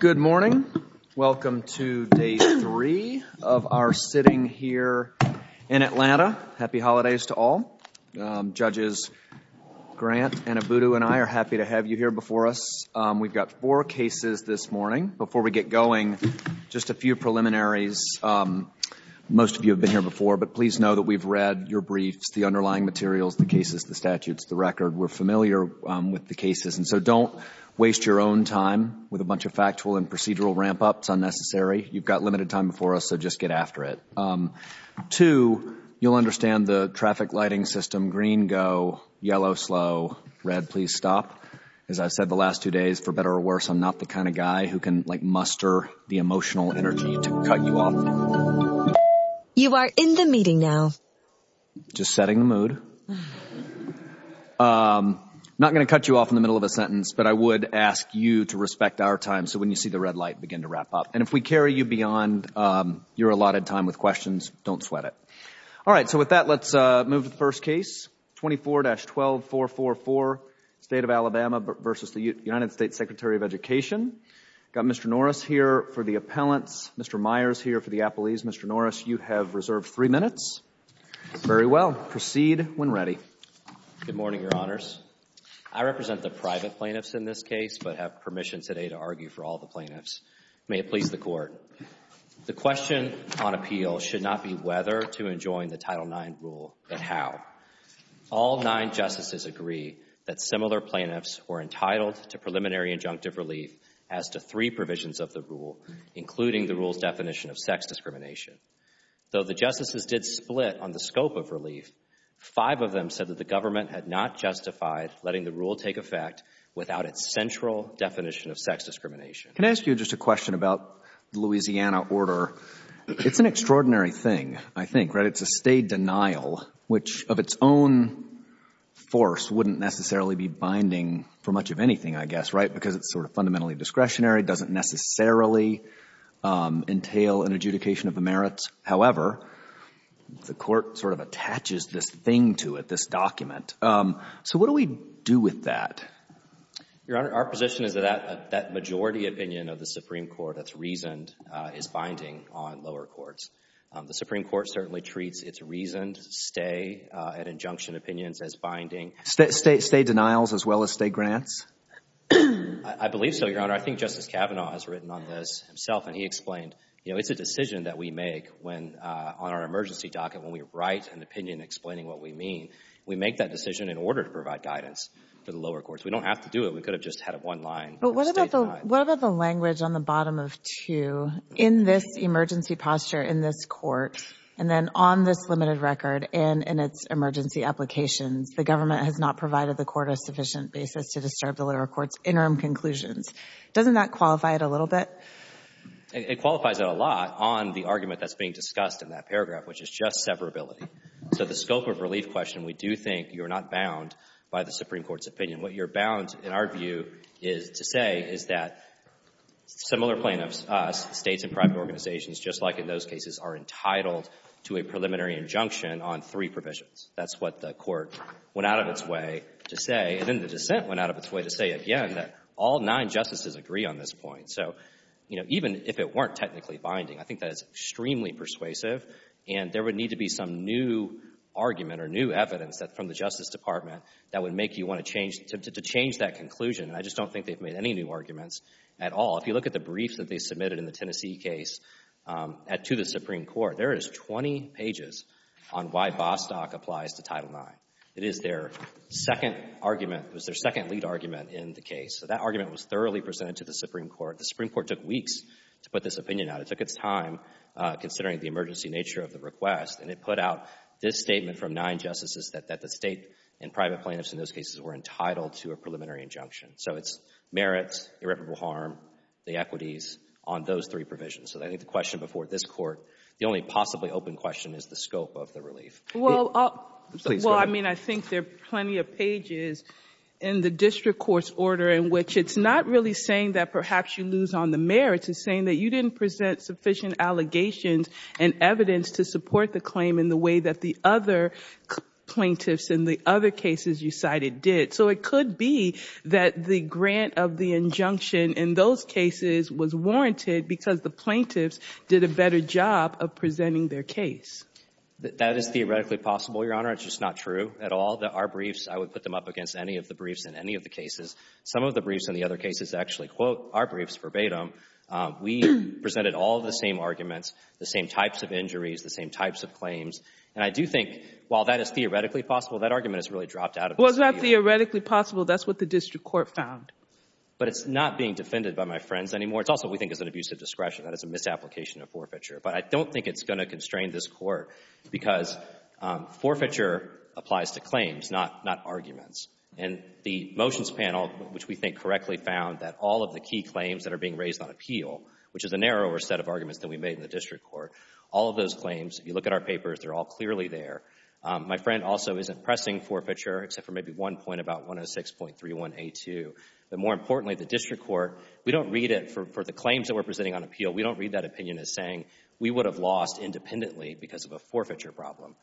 Good morning. Welcome to Day 3 of our sitting here in Atlanta. Happy Holidays to all. Judges Grant and Abudu and I are happy to have you here before us. We've got four cases this morning. Before we get going, just a few preliminaries. Most of you have been here before, but please know that we've read your briefs, the underlying materials, the cases, the statutes, the record. We're familiar with the cases, and so don't waste your own time with a bunch of factual and procedural ramp-ups. Unnecessary. You've got limited time before us, so just get after it. Two, you'll understand the traffic lighting system. Green, go. Yellow, slow. Red, please stop. As I've said the last two days, for better or worse, I'm not the kind of guy who can, like, muster the emotional energy to cut you off. You are in the meeting now. Just setting the mood. Not going to cut you off in the middle of a sentence, but I would ask you to respect our time so when you see the red light, begin to wrap up. And if we carry you beyond your allotted time with questions, don't sweat it. All right. So with that, let's move to the first case. 24-12444, State of Alabama versus the United States Secretary of Education. Got Mr. Norris here for the appellants. Mr. Norris, you have reserved three minutes. Very well. Proceed when ready. Good morning, Your Honors. I represent the private plaintiffs in this case but have permission today to argue for all the plaintiffs. May it please the Court. The question on appeal should not be whether to enjoin the Title IX rule, but how. All nine Justices agree that similar plaintiffs were entitled to preliminary injunctive relief as to three provisions of the rule, including the rule's definition of sex discrimination. Though the Justices did split on the scope of relief, five of them said that the government had not justified letting the rule take effect without its central definition of sex discrimination. Can I ask you just a question about the Louisiana order? It's an extraordinary thing, I think, right? It's a State denial which of its own force wouldn't necessarily be binding for much of anything, I guess, right, because it's sort of fundamentally discretionary, it doesn't necessarily entail an adjudication of the merits. However, the Court sort of attaches this thing to it, this document. So what do we do with that? Your Honor, our position is that that majority opinion of the Supreme Court that's reasoned is binding on lower courts. The Supreme Court certainly treats its reasoned stay at injunction opinions as binding. State denials as well as State grants? I believe so, Your Honor. I think Justice Kavanaugh has written on this himself, and he explained, you know, it's a decision that we make when, on our emergency docket, when we write an opinion explaining what we mean. We make that decision in order to provide guidance for the lower courts. We don't have to do it. We could have just had one line. But what about the language on the bottom of 2, in this emergency posture in this Court, and then on this limited record and in its emergency applications, the government has not provided the Court a sufficient basis to disturb the lower court's interim conclusions? Doesn't that qualify it a little bit? It qualifies it a lot on the argument that's being discussed in that paragraph, which is just severability. So the scope of relief question, we do think you're not bound by the Supreme Court's opinion. What you're bound, in our view, is to say is that similar plaintiffs, States and private organizations, just like in those cases, are entitled to a preliminary injunction on three provisions. That's what the Court went out of its way to say, and then the dissent went out of its way to say again that all nine justices agree on this point. So, you know, even if it weren't technically binding, I think that is extremely persuasive and there would need to be some new argument or new evidence from the Justice Department that would make you want to change, to change that conclusion. And I just don't think they've made any new arguments at all. If you look at the briefs that they submitted in the Tennessee case to the Supreme Court, there is 20 pages on why Bostock applies to Title IX. It is their second argument, was their second lead argument in the case. So that argument was thoroughly presented to the Supreme Court. The Supreme Court took weeks to put this opinion out. It took its time, considering the emergency nature of the request, and it put out this statement from nine justices that the State and private plaintiffs in those cases were entitled to a preliminary injunction. So it's merits, irreparable harm, the equities on those three provisions. So I think the question before this Court, the only possibly open question is the scope of the relief. Well, I mean, I think there are plenty of pages in the district court's order in which it's not really saying that perhaps you lose on the merits. It's saying that you didn't present sufficient allegations and evidence to support the claim in the way that the other plaintiffs in the other cases you cited did. So it could be that the grant of the injunction in those cases was warranted because the plaintiffs did a better job of presenting their case. That is theoretically possible, Your Honor. It's just not true at all. Our briefs, I would put them up against any of the briefs in any of the cases. Some of the briefs in the other cases actually quote our briefs verbatim. We presented all the same arguments, the same types of injuries, the same types of claims. And I do think, while that is theoretically possible, that argument is really dropped out of this appeal. Well, it's not theoretically possible. That's what the district court found. But it's not being defended by my friends anymore. It's also what we think is an abusive discretion. That is a misapplication of forfeiture. But I don't think it's going to constrain this Court because forfeiture applies to claims, not arguments. And the motions panel, which we think correctly found that all of the key claims that are being All of those claims, if you look at our papers, they're all clearly there. My friend also isn't pressing forfeiture except for maybe one point about 106.31a2. But more importantly, the district court, we don't read it for the claims that we're presenting on appeal. We don't read that opinion as saying we would have lost independently because of a forfeiture problem.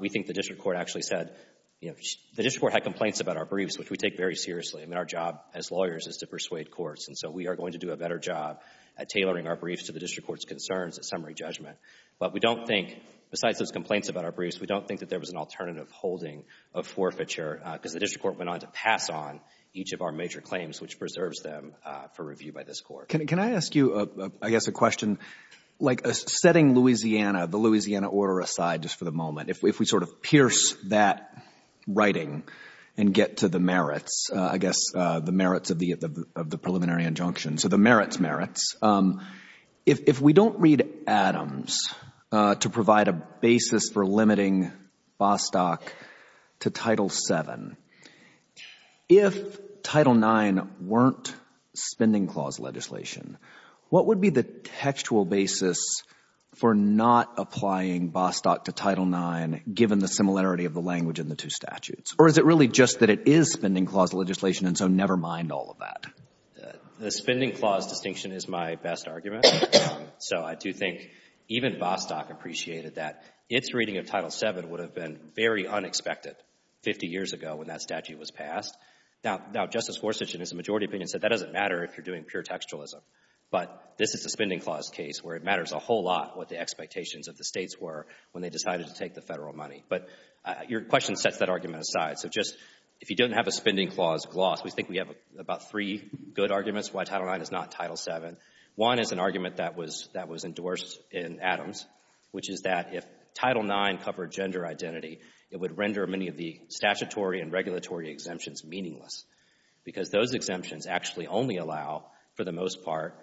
We think the district court actually said, you know, the district court had complaints about our briefs, which we take very seriously. I mean, our job as lawyers is to persuade courts. And so we are going to do a better job at But we don't think, besides those complaints about our briefs, we don't think that there was an alternative holding of forfeiture because the district court went on to pass on each of our major claims, which preserves them for review by this Court. Can I ask you, I guess, a question? Like, setting Louisiana, the Louisiana order aside just for the moment, if we sort of pierce that writing and get to the merits, I guess, the merits of the preliminary injunction, so the merits merits, if we don't read Adams to provide a basis for limiting Bostock to Title VII, if Title IX weren't spending clause legislation, what would be the textual basis for not applying Bostock to Title IX, given the similarity of the language in the two statutes? Or is it really just that it is spending clause legislation, and so never mind all of that? The spending clause distinction is my best argument. So I do think even Bostock appreciated that its reading of Title VII would have been very unexpected 50 years ago when that statute was passed. Now, Justice Forsyth, in his majority opinion, said that doesn't matter if you're doing pure textualism. But this is a spending clause case where it matters a whole lot what the expectations of the states were when they decided to take the Federal money. But your question sets that argument aside. So just, if you don't have a spending clause gloss, we think we have about three good arguments why Title IX is not Title VII. One is an argument that was endorsed in Adams, which is that if Title IX covered gender identity, it would render many of the statutory and regulatory exemptions meaningless, because those exemptions actually only allow, for the most part,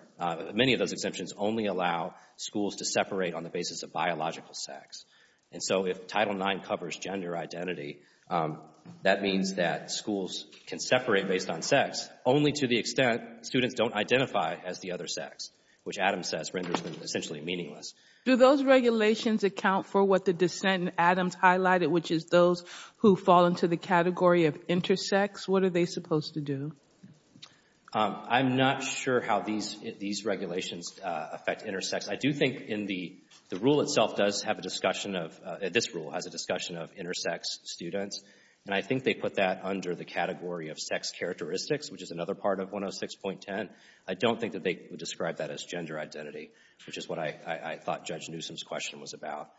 many of those exemptions only allow schools to separate on the basis of biological sex. And so if Title IX covers gender identity, that means that schools can separate based on sex, only to the extent students don't identify as the other sex, which Adams says renders them essentially meaningless. Do those regulations account for what the dissent in Adams highlighted, which is those who fall into the category of intersex? What are they supposed to do? I'm not sure how these regulations affect intersex. I do think in the rule itself does have a discussion of, this rule has a discussion of intersex students, and I think they put that under the category of sex characteristics, which is another part of 106.10. I don't think that they would describe that as gender identity, which is what I thought Judge Newsom's question was about.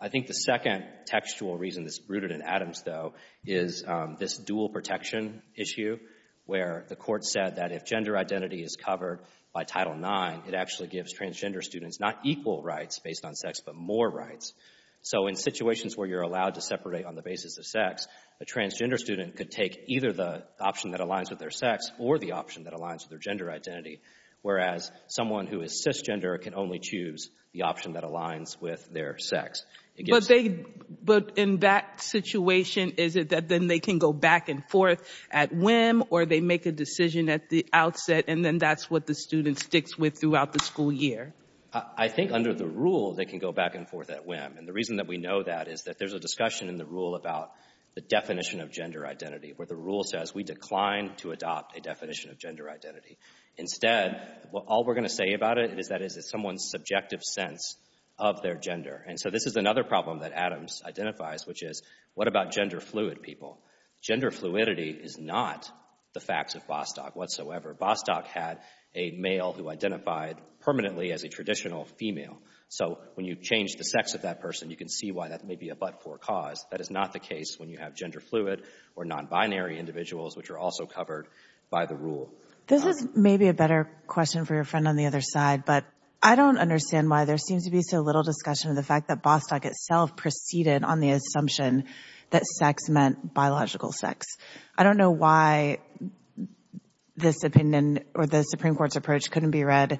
I think the second textual reason that's rooted in Adams, though, is this dual protection issue, where the court said that if gender identity is covered by Title IX, it actually gives transgender students not equal rights based on sex, but more rights. So in situations where you're allowed to separate on the basis of sex, a transgender student could take either the option that aligns with their sex or the option that aligns with their gender identity, whereas someone who is cisgender can only choose the option that aligns with their sex. But in that situation, is it that then they can go back and forth at whim, or they make a decision at the outset, and then that's what the student sticks with throughout the school year? I think under the rule, they can go back and forth at whim, and the reason that we know that is that there's a discussion in the rule about the definition of gender identity, where the rule says we decline to adopt a definition of gender identity. Instead, all we're going to say about it is that it is someone's subjective sense of their gender. And so this is another problem that Adams identifies, which is, what about gender fluid people? Gender fluidity is not the facts of Bostock whatsoever. Bostock had a male who identified permanently as a traditional female. So when you change the sex of that person, you can see why that may be a but-for cause. That is not the case when you have gender fluid or non-binary individuals, which are also covered by the rule. This is maybe a better question for your friend on the other side, but I don't understand why there seems to be so little discussion of the fact that Bostock itself proceeded on the assumption that sex meant biological sex. I don't know why this opinion, or the Supreme Court's approach, couldn't be read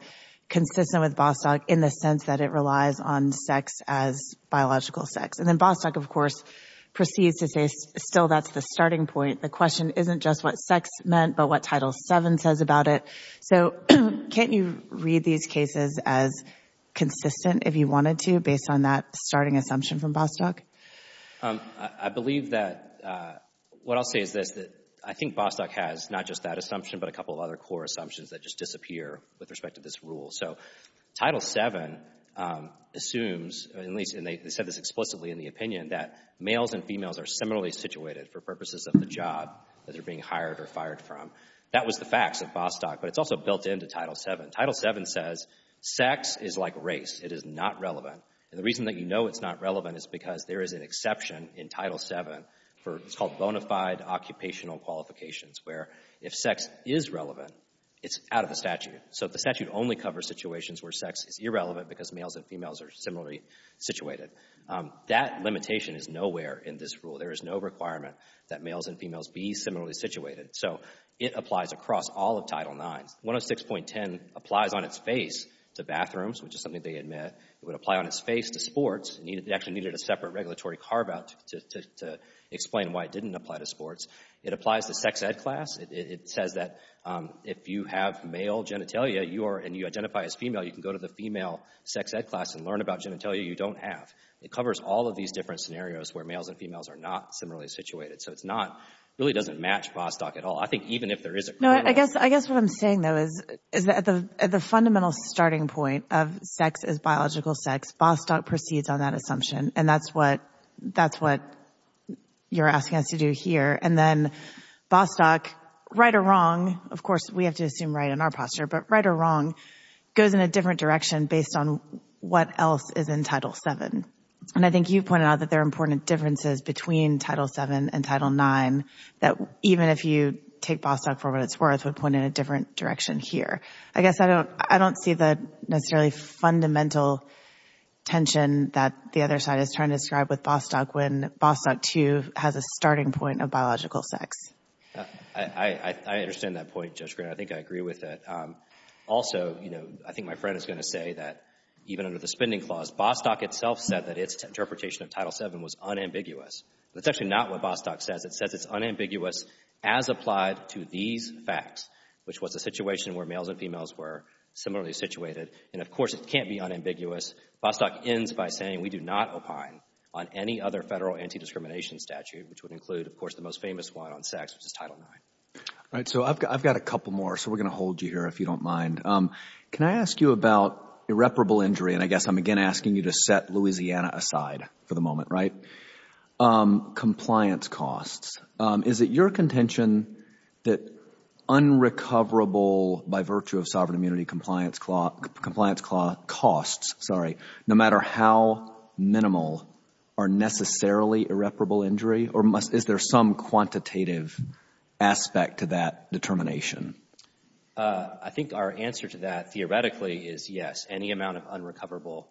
consistent with Bostock in the sense that it relies on sex as biological sex. And then Bostock, of course, proceeds to say still that's the starting point. The question isn't just what sex meant, but what Title VII says about it. So can't you read these cases as consistent, if you wanted to, based on that starting assumption from Bostock? I believe that, what I'll say is this, that I think Bostock has not just that assumption, but a couple of other core assumptions that just disappear with respect to this rule. So Title VII assumes, and they said this explicitly in the opinion, that males and females are similarly situated for purposes of the job that they're being hired or fired from. That was the facts of Bostock, but it's also built into Title VII. Title VII says sex is like race. It is not relevant. And the reason that you know it's not relevant is because there is an exception in Title VII for what's called bona fide occupational qualifications, where if sex is relevant, it's out of the statute. So the statute only covers situations where sex is irrelevant because males and females are similarly situated. That limitation is nowhere in this rule. There is no requirement that males and females be similarly situated. So it applies across all of Title IX. 106.10 applies on its face to bathrooms, which is something they admit. It would apply on its face to sports. It actually needed a separate regulatory carve-out to explain why it didn't apply to sports. It applies to sex ed class. It says that if you have male genitalia and you identify as female, you can go to the female sex ed class and learn about genitalia you don't have. It covers all of these different scenarios where males and females are not similarly situated. So it's not, it really doesn't match Bostock at all. I think even if there is a... No, I guess what I'm saying though is that at the fundamental starting point of sex is biological sex, Bostock proceeds on that assumption. And that's what you're asking us to do here. And then Bostock, right or wrong, of course we have to assume right in our posture, but right or wrong, goes in a different direction based on what else is in Title VII. And I think you pointed out that there are important differences between Title VII and Title IX that even if you take Bostock for what it's worth would point in a different direction here. I guess I don't see the necessarily fundamental tension that the other side is trying to describe with Bostock when Bostock II has a starting point of biological sex. I understand that point, Judge Green. I think I agree with it. Also, you know, I think my friend is going to say that even under the spending clause, Bostock itself said that its interpretation of Title VII was unambiguous. That's actually not what Bostock says. It says it's unambiguous as applied to these facts, which was a situation where males and females were similarly situated. And of course, it can't be unambiguous. Bostock ends by saying we do not opine on any other federal anti-discrimination statute, which would include, of course, the most famous one on sex, which is Title IX. All right. So I've got a couple more. So we're going to hold you here if you don't mind. Can I ask you about irreparable injury? And I guess I'm again asking you to set Louisiana aside for the moment, right? Compliance costs. Is it your contention that unrecoverable by virtue of sovereign immunity compliance costs, no matter how minimal, are necessarily irreparable injury? Or is there some quantitative aspect to that determination? I think our answer to that theoretically is yes. Any amount of unrecoverable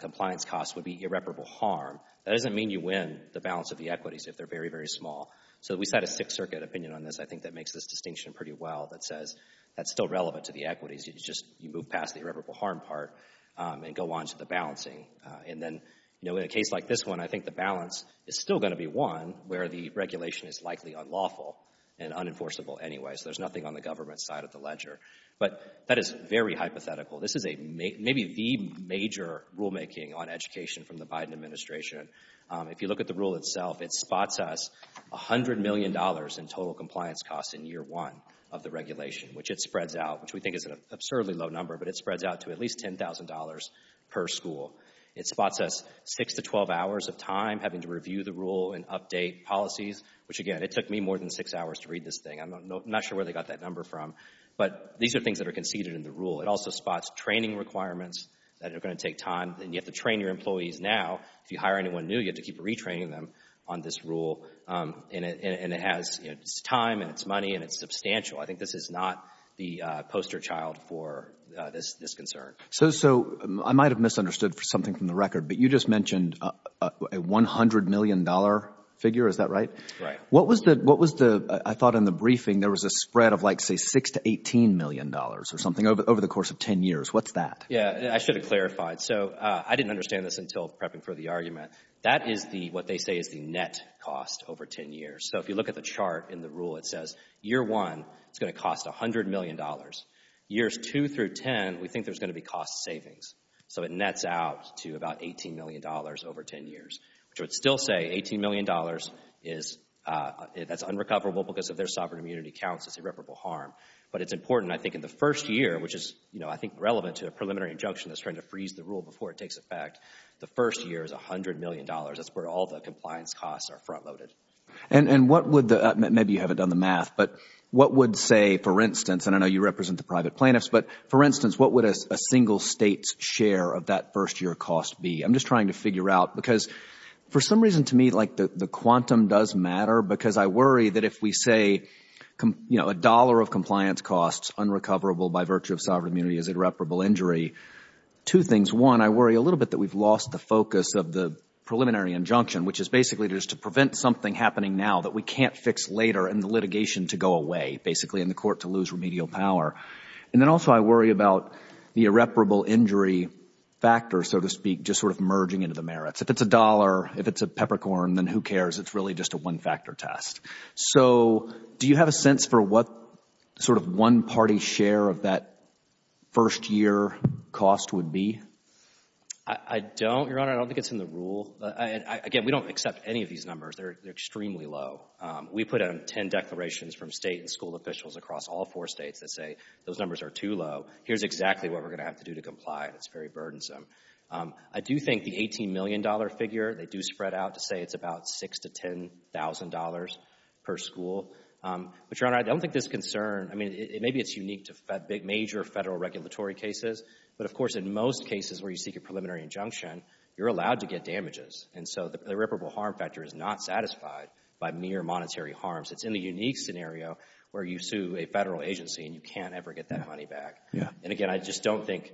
compliance costs would be irreparable harm. That doesn't mean you win the balance of the equities if they're very, very small. So we set a Sixth Circuit opinion on this, I think, that makes this distinction pretty well that says that's still relevant to the equities. It's just you move past the irreparable harm part and go on to the balancing. And then, you know, in a case like this one, I think the balance is still going to be one where the regulation is likely unlawful and unenforceable anyway. So there's nothing on the government's side of the ledger. But that is very hypothetical. This is maybe the major rulemaking on education from the Biden administration. If you look at the rule itself, it spots us $100 million in total compliance costs in year one of the regulation, which it spreads out, which we think is an absurdly low number, but it spreads out to at least $10,000 per school. It spots us six to 12 hours of time having to review the rule and update policies, which, again, it took me more than six hours to read this thing. I'm not sure where they got that number from. But these are things that are conceded in the rule. It also spots training requirements that are going to take time. And you have to train your employees now. If you hire anyone new, you have to keep retraining them on this rule. And it has its time and its money, and it's substantial. I think this is not the poster child for this concern. So I might have misunderstood something from the record, but you just mentioned a $100 million figure. Is that right? Right. What was the, I thought in the briefing, there was a spread of like, say, six to $18 million or something over the course of 10 years. What's that? Yeah, I should have clarified. So I didn't understand this until prepping for the argument. That is what they say is the net cost over 10 years. So if you look at the chart in the rule, it says year one, it's going to cost $100 million. Years two through 10, we think there's going to be cost savings. So it nets out to about $18 million over 10 years, which would still say $18 million is, that's unrecoverable because if their sovereign immunity counts as irreparable harm. But it's important, I think, in the first year, which is, you know, I think relevant to a preliminary injunction that's trying to freeze the rule before it takes effect. The first year is $100 million. That's where all the compliance costs are front loaded. And what would the, maybe you haven't done the math, but what would say, for instance, and I know you represent the private plaintiffs, but for instance, what would a single state's share of that first year cost be? I'm just trying to figure out because for some reason to me, like the quantum does matter, because I worry that if we say, you know, a dollar of compliance costs unrecoverable by virtue of sovereign immunity is irreparable injury. Two things. One, I worry a little bit that we've lost the focus of the preliminary injunction, which is basically just to prevent something happening now that we can't fix later in the litigation to go away, basically in the court to lose remedial power. And then also I worry about the irreparable injury factor, so to speak, just sort of merging into the merits. If it's a dollar, if it's a peppercorn, then who cares? It's really just a one-factor test. So do you have a sense for what sort of one-party share of that first-year cost would be? I don't, Your Honor. I don't think it's in the rule. Again, we don't accept any of these We put out 10 declarations from state and school officials across all four states that say, those numbers are too low. Here's exactly what we're going to have to do to comply, and it's very burdensome. I do think the $18 million figure, they do spread out to say it's about $6,000 to $10,000 per school. But, Your Honor, I don't think this concern, I mean, maybe it's unique to major federal regulatory cases, but of course in most cases where you seek a preliminary injunction, you're allowed to get damages. And so the irreparable harm factor is not satisfied by mere monetary harms. It's in the unique scenario where you sue a federal agency and you can't ever get that money back. And again, I just don't think,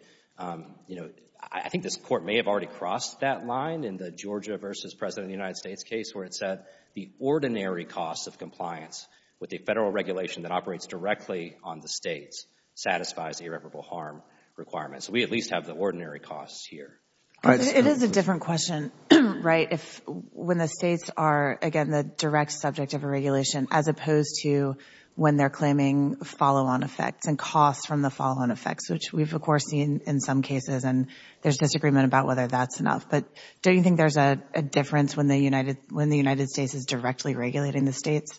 you know, I think this Court may have already crossed that line in the Georgia versus President of the United States case where it said the ordinary cost of compliance with a federal regulation that operates directly on the states satisfies the irreparable harm requirement. So we at least have the ordinary costs here. It is a different question, right? When the states are, again, the direct subject of a regulation as opposed to when they're claiming follow-on effects and costs from the follow-on effects, which we've of course seen in some cases, and there's disagreement about whether that's enough. But don't you think there's a difference when the United States is directly regulating the states?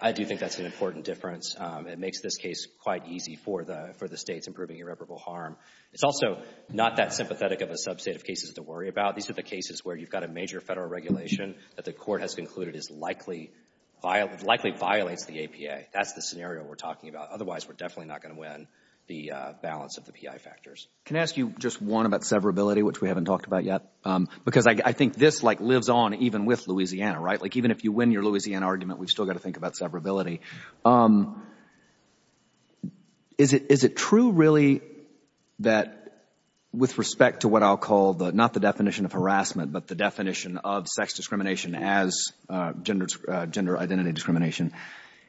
I do think that's an important difference. It makes this case quite easy for the states improving irreparable harm. It's also not that sympathetic of a subset of cases to worry about. These are the cases where you've got a major federal regulation that the Court has concluded likely violates the APA. That's the scenario we're talking about. Otherwise, we're definitely not going to win the balance of the PI factors. Can I ask you just one about severability, which we haven't talked about yet? Because I think this like lives on even with Louisiana, right? Like even if you win your Louisiana argument, we've got to think about severability. Is it true really that with respect to what I'll call, not the definition of harassment, but the definition of sex discrimination as gender identity discrimination,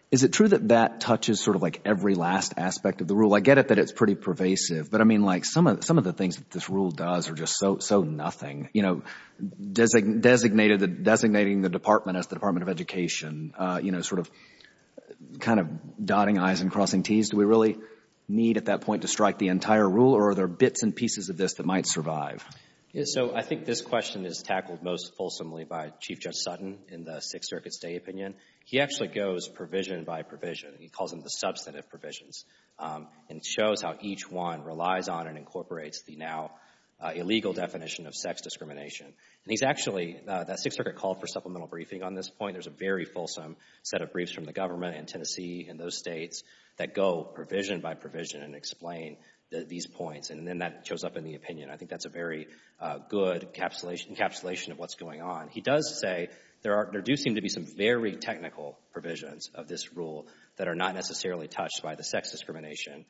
is it true that that touches sort of like every last aspect of the rule? I get it that it's pretty pervasive, but I mean like some of the things that this rule does are just so nothing. You know, designating the department as the Department of Education, you know, sort of kind of dotting i's and crossing t's. Do we really need at that point to strike the entire rule or are there bits and pieces of this that might survive? So I think this question is tackled most fulsomely by Chief Judge Sutton in the Sixth Circuit State opinion. He actually goes provision by provision. He calls them the substantive provisions and shows how each one relies on and incorporates the now illegal definition of sex discrimination. And he's actually, that Sixth Circuit called for supplemental briefing on this point. There's a very fulsome set of briefs from the government in Tennessee and those states that go provision by provision and explain these points and then that shows up in the opinion. I think that's a very good encapsulation of what's going on. He does say there do seem to be some very technical provisions of this rule that are not necessarily touched by the sex discrimination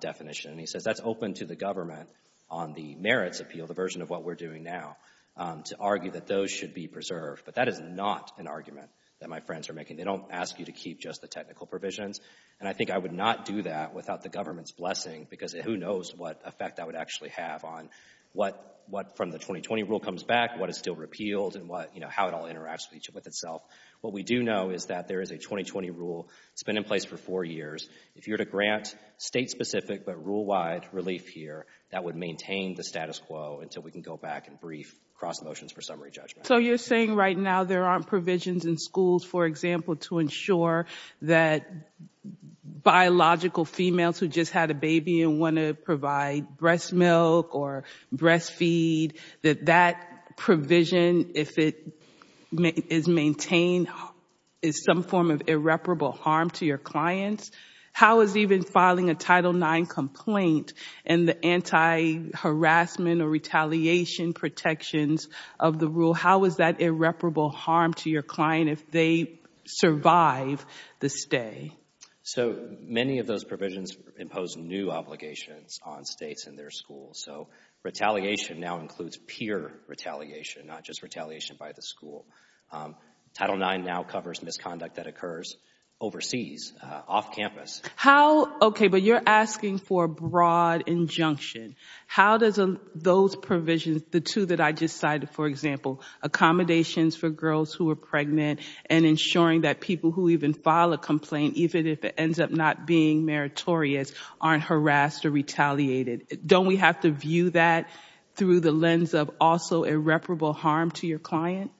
definition. And he says that's open to the government on the merits appeal, the version of what we're doing now, to argue that those should be preserved. But that is not an argument that my friends are making. They don't ask you to keep just the technical provisions. And I think I would not do that without the government's blessing because who knows what effect that would actually have on what from the 2020 rule comes back, what is still repealed, and what, you know, how it all interacts with itself. What we do know is that there is a 2020 rule. It's been in place for four years. If you're to grant state-specific but rule-wide relief here, that would maintain the status quo until we can go back and brief cross motions for summary judgment. So you're saying right now there aren't provisions in schools, for example, to ensure that biological females who just had a baby and want to provide breast milk or breast feed, that that provision, if it is maintained, is some form of irreparable harm to your clients? How is even filing a Title IX complaint and the anti-harassment or retaliation protections of the rule, how is that irreparable harm to your client if they survive the stay? So many of those provisions impose new obligations on states and their schools. So retaliation now includes peer retaliation, not just retaliation by the school. Title IX now covers misconduct that occurs overseas, off campus. How, okay, but you're asking for a broad injunction. How does those provisions, the two that I just cited, for example, accommodations for girls who are pregnant and ensuring that people who even file a complaint, even if it ends up not being meritorious, aren't harassed or retaliated, don't we have to view that through the lens of also irreparable harm to your client?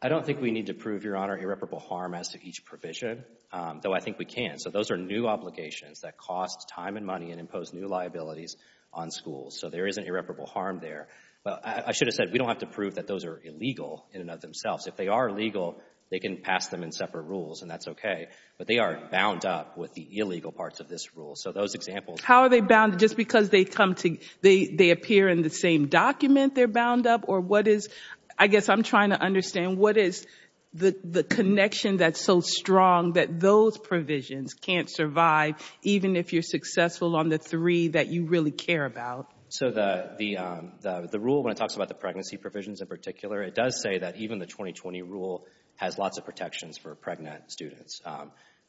I don't think we need to prove, Your Honor, irreparable harm as to each provision, though I think we can. So those are new obligations that cost time and money and impose new liabilities on schools. So there is an irreparable harm there. But I should have said we don't have to prove that those are illegal in and of themselves. If they are legal, they can pass them in separate rules, and that's okay. But they are bound up with the illegal parts of this rule. So those examples— How are they bound? Just because they come to—they appear in the same document, they're bound up? Or what is—I guess I'm trying to understand what is the connection that's so strong that those provisions can't survive, even if you're successful on the three that you really care about? So the rule, when it talks about the pregnancy provisions in particular, it does say that even the 2020 rule has lots of protections for pregnant students.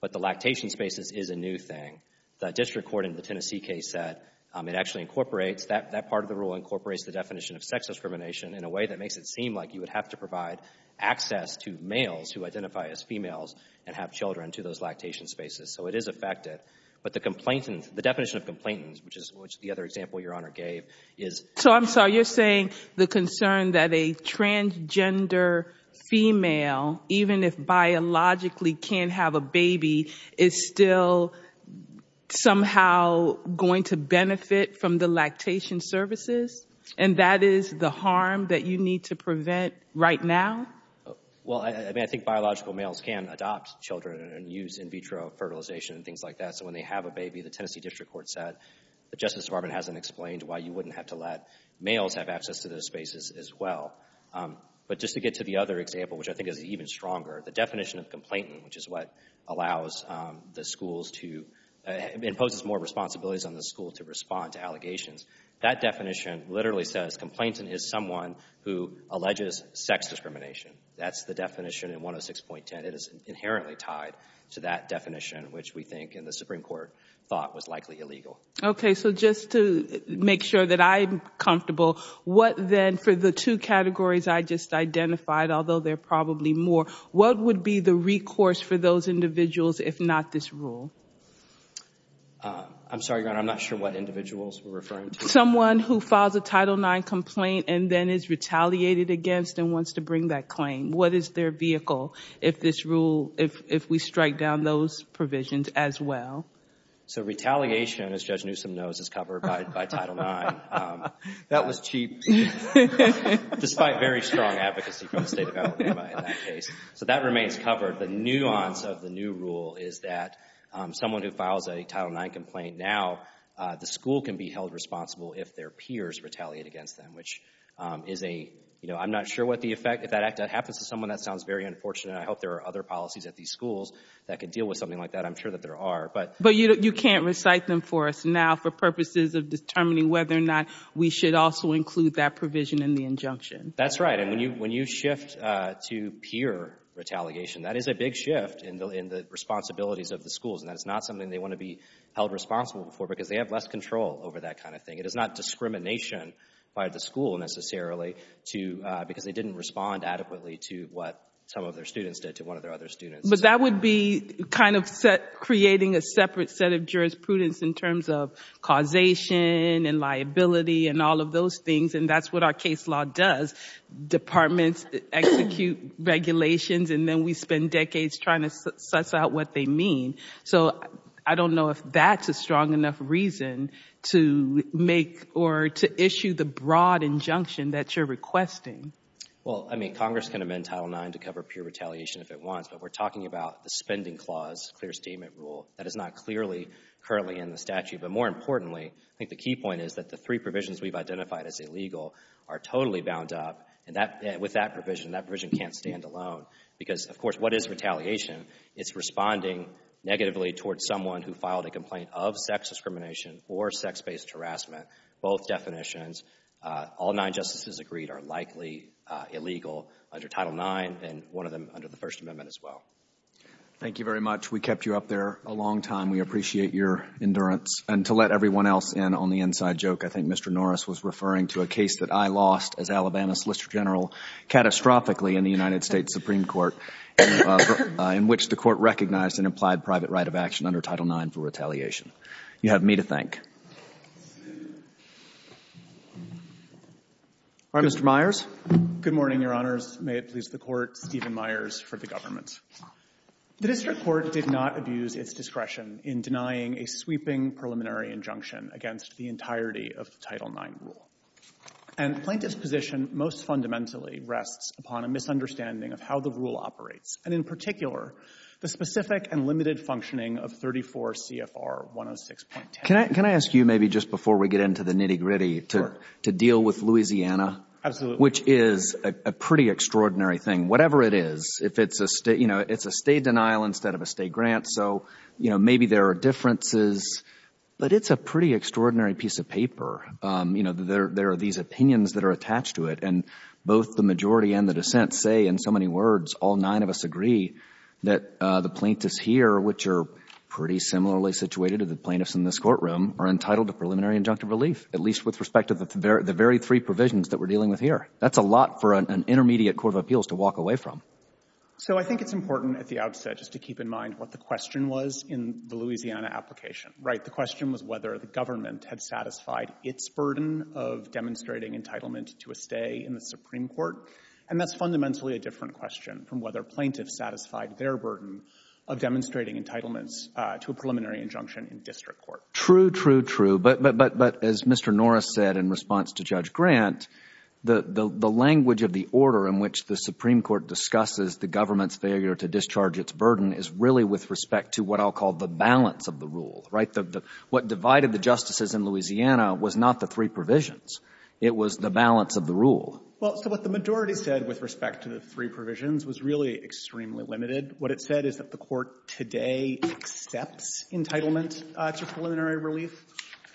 But the lactation spaces is a new thing. The district court in the Tennessee case said it actually incorporates—that part of the rule incorporates the definition of sex discrimination in a way that makes it seem like you would have to provide access to males who identify as females and have children to those lactation spaces. So it is affected. But the definition of complainant, which is the other example Your Honor gave, is— So I'm sorry, you're saying the concern that a transgender female, even if biologically can have a baby, is still somehow going to benefit from the lactation services? And that is the harm that you need to prevent right now? Well, I mean, I think biological males can adopt children and use in vitro fertilization and things like that. So when they have a baby, the Tennessee district court said the Justice Department hasn't explained why you wouldn't have to let males have access to those spaces as well. But just to get to the other example, which I think is even stronger, the definition of complainant, which is what allows the schools to—imposes more responsibilities on the school to respond to allegations, that definition literally says complainant is someone who alleges sex discrimination. That's the definition in 106.10. It is inherently tied to that definition, which we think in the Supreme Court thought was likely illegal. Okay. So just to make sure that I'm comfortable, what then for the two categories I just identified, although there are probably more, what would be the recourse for those individuals if not this rule? I'm sorry, Your Honor. I'm not sure what individuals we're referring to. Someone who files a Title IX complaint and then is retaliated against and wants to bring that claim. What is their vehicle if this rule—if we strike down those provisions as well? So retaliation, as Judge Newsom knows, is covered by Title IX. That was cheap, despite very strong advocacy from the State of Alabama in that case. So that remains covered. The nuance of the new rule is that someone who files a Title IX complaint now, the school can be held responsible if their peers retaliate against them, which is a—you know, I'm not sure what the effect, if that happens to someone, that sounds very unfortunate. I hope there are other policies at these schools that could deal with something like that. I'm sure that there are, but— But you can't recite them for us now for purposes of determining whether or not we should also include that provision in the injunction. That's right. And when you shift to peer retaliation, that is a big shift in the responsibilities of the schools. And that is not something they want to be held responsible for because they have less control over that kind of thing. It is not discrimination by the school, necessarily, to—because they didn't respond adequately to what some of their students did to one of their other students. But that would be kind of creating a separate set of jurisprudence in terms of causation and liability and all of those things. And that's what our case law does. Departments execute regulations and then we spend decades trying to suss out what they mean. So, I don't know if that's a strong enough reason to make or to issue the broad injunction that you're requesting. Well, I mean, Congress can amend Title IX to cover peer retaliation if it wants, but we're talking about the spending clause, clear statement rule. That is not clearly, currently in the statute. But more importantly, I think the key point is that the three provisions we've identified as illegal are totally bound up. And with that provision, that provision can't stand alone because, of course, what is retaliation? It's responding negatively towards someone who filed a complaint of sex discrimination or sex-based harassment. Both definitions, all nine Justices agreed, are likely illegal under Title IX and one of them under the First Amendment as well. Thank you very much. We kept you up there a long time. We appreciate your endurance. And to let everyone else in on the inside joke, I think Mr. Norris was referring to a case that I lost as Alabama Solicitor General, catastrophically, in the United States Supreme Court, in which the Court recognized an implied private right of action under Title IX for retaliation. You have me to thank. All right, Mr. Myers. Good morning, Your Honors. May it please the Court, Stephen Myers for the government. The district court did not abuse its discretion in denying a sweeping preliminary injunction against the entirety of the Title IX rule. And the plaintiff's position most fundamentally rests upon a misunderstanding of how the rule operates, and in particular, the specific and limited functioning of 34 CFR 106.10. Can I ask you, maybe just before we get into the nitty-gritty, to deal with Louisiana? Absolutely. Which is a pretty extraordinary thing. Whatever it is, if it's a state, you know, it's a state denial instead of a state grant. So, you know, maybe there are differences. But it's a pretty extraordinary piece of paper. You know, there are these opinions that are attached to it. And both the majority and the dissent say, in so many words, all nine of us agree that the plaintiffs here, which are pretty similarly situated to the plaintiffs in this courtroom, are entitled to preliminary injunctive relief, at least with respect to the very three provisions that we're dealing with here. That's a lot for an intermediate court of appeals to walk away from. So I think it's important at the outset just to keep in mind what the question was in the Louisiana application, right? The question was whether the government had satisfied its burden of demonstrating entitlement to a stay in the Supreme Court. And that's fundamentally a different question from whether plaintiffs satisfied their burden of demonstrating entitlements to a preliminary injunction in district court. True, true, true. But as Mr. Norris said in response to Judge Grant, the language of the order in which the Supreme Court discusses the government's failure to discharge its burden is really with respect to what I'll call the balance of the rule, right? What divided the justices in Louisiana was not the three provisions. It was the balance of the rule. Well, so what the majority said with respect to the three provisions was really extremely limited. What it said is that the Court today accepts entitlement to preliminary relief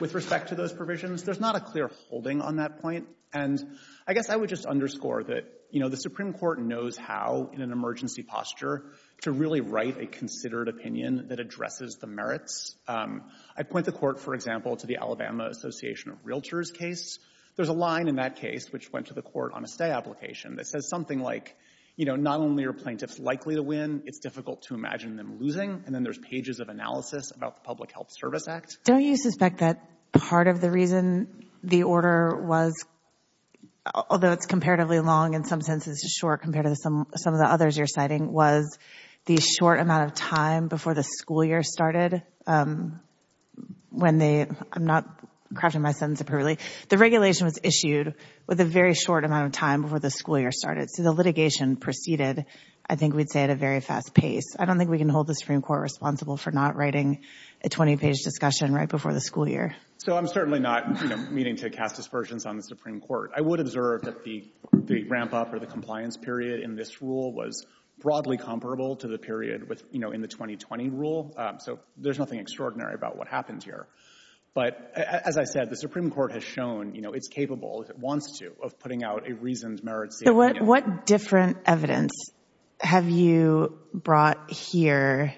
with respect to those provisions. There's not a clear holding on that point. And I guess I would just underscore that the Supreme Court knows how, in an emergency posture, to really write a considered opinion that addresses the merits. I point the Court, for example, to the Alabama Association of Realtors case. There's a line in that case which went to the Court on a stay application that says like, you know, not only are plaintiffs likely to win, it's difficult to imagine them losing. And then there's pages of analysis about the Public Health Service Act. Don't you suspect that part of the reason the order was, although it's comparatively long in some senses, it's short compared to some of the others you're citing, was the short amount of time before the school year started when they, I'm not crafting my sentence appropriately, the regulation was issued with a very short amount of time before the school year started. So the litigation proceeded, I think we'd say, at a very fast pace. I don't think we can hold the Supreme Court responsible for not writing a 20-page discussion right before the school year. So I'm certainly not, you know, meaning to cast aspersions on the Supreme Court. I would observe that the ramp-up or the compliance period in this rule was broadly comparable to the period with, you know, in the 2020 rule. So there's nothing extraordinary about what happened here. But as I said, the Supreme Court has shown, you know, it's capable, if it wants to, of putting out a reasoned merit statement. So what different evidence have you brought here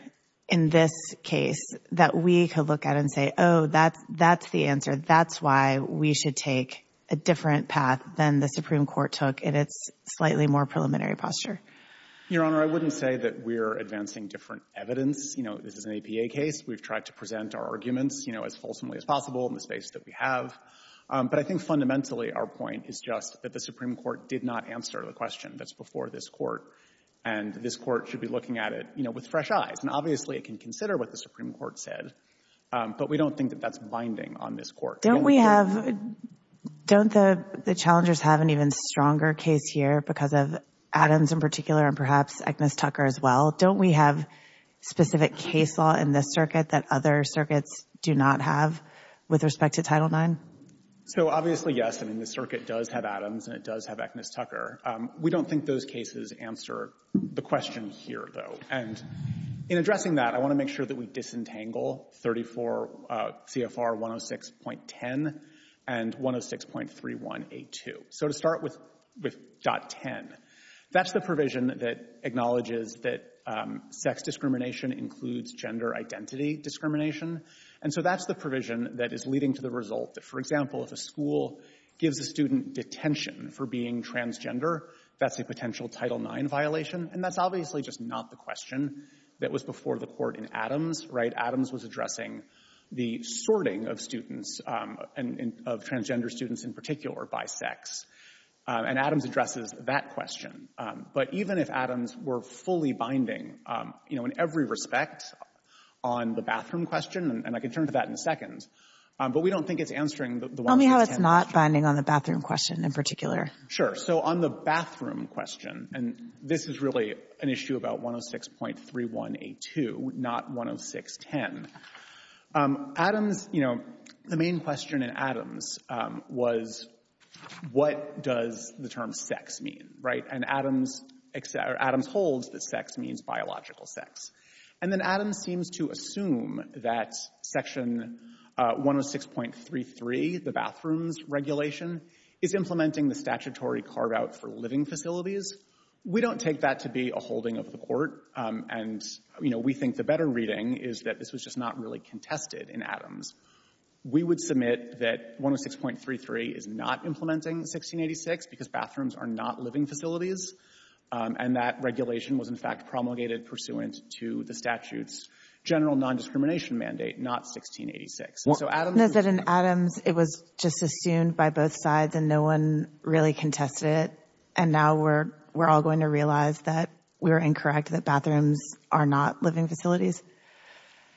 in this case that we could look at and say, oh, that's the answer, that's why we should take a different path than the Supreme Court took in its slightly more preliminary posture? Your Honor, I wouldn't say that we're advancing different evidence. You know, this is an APA case. We've tried to present our arguments, you know, as fulsomely as possible in the space that we have. But I think fundamentally our point is just that the Supreme Court did not answer the question that's before this Court. And this Court should be looking at it, you know, with fresh eyes. And obviously it can consider what the Supreme Court said. But we don't think that that's binding on this Court. Don't we have, don't the challengers have an even stronger case here because of Adams in particular and perhaps Agnes Tucker as well? Don't we have specific case law in this circuit that other circuits do not have with respect to Title IX? So obviously, yes. I mean, the circuit does have Adams and it does have Agnes Tucker. We don't think those cases answer the question here, though. And in addressing that, I want to make sure that we disentangle 34 CFR 106.10 and 106.3182. So to start with .10, that's the provision that acknowledges that sex discrimination includes gender identity discrimination. And so that's the provision that is leading to the result that, for example, if a school gives a student detention for being transgender, that's a potential Title IX violation. And that's obviously just not the question that was before the Court in Adams, right? Adams was addressing the sorting of students and of transgender students in particular by sex. And Adams addresses that question. But even if Adams were fully binding, you know, in every respect on the bathroom question and I can turn to that in a second, but we don't think it's answering the 106.10. Tell me how it's not binding on the bathroom question in particular. Sure. So on the bathroom question, and this is really an issue about 106.3182, not 106.10. Adams, you know, the main question in Adams was what does the term sex mean, right? And Adams holds that sex means biological sex. And then Adams seems to assume that Section 106.33, the bathrooms regulation, is implementing the statutory carve-out for living facilities. We don't take that to be a holding of the Court. And, you know, we think the better reading is that this was just not really contested in Adams. We would submit that 106.33 is not implementing 1686 because bathrooms are not living facilities. And that regulation was, in fact, promulgated pursuant to the statute's general nondiscrimination mandate, not 1686. And so Adams— And is it in Adams it was just assumed by both sides and no one really contested it, and now we're all going to realize that we were incorrect, that bathrooms are not living facilities?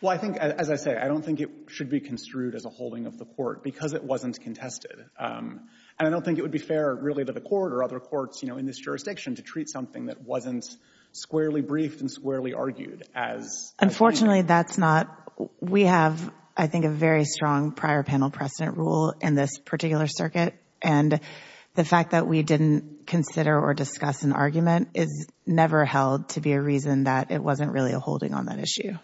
Well, I think, as I say, I don't think it should be construed as a holding of the Court because it wasn't contested. And I don't think it would be fair, really, to the Court or other courts, you know, in this jurisdiction to treat something that wasn't squarely briefed and squarely argued as— Unfortunately, that's not—we have, I think, a very strong prior panel precedent rule in this particular circuit. And the fact that we didn't consider or discuss an argument is never held to be a reason that it wasn't really a holding on that issue.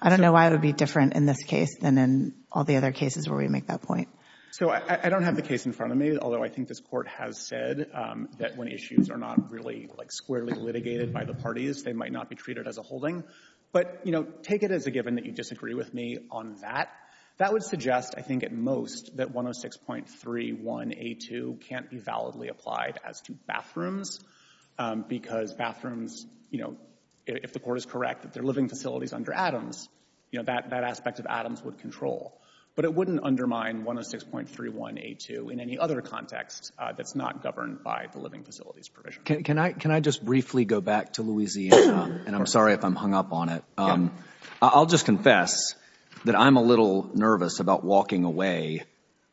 I don't know why it would be different in this case than in all the other cases where we make that point. So I don't have the case in front of me, although I think this Court has said that when issues are not really, like, squarely litigated by the parties, they might not be treated as a holding. But, you know, take it as a given that you disagree with me on that. That would suggest, I think, at most that 106.31a2 can't be validly applied as to bathrooms because bathrooms, you know, if the Court is correct that they're living facilities under Adams, you know, that aspect of Adams would control. But it wouldn't undermine 106.31a2 in any other context that's not governed by the living facilities provision. Can I just briefly go back to Louisiana? And I'm sorry if I'm hung up on it. I'll just confess that I'm a little nervous about walking away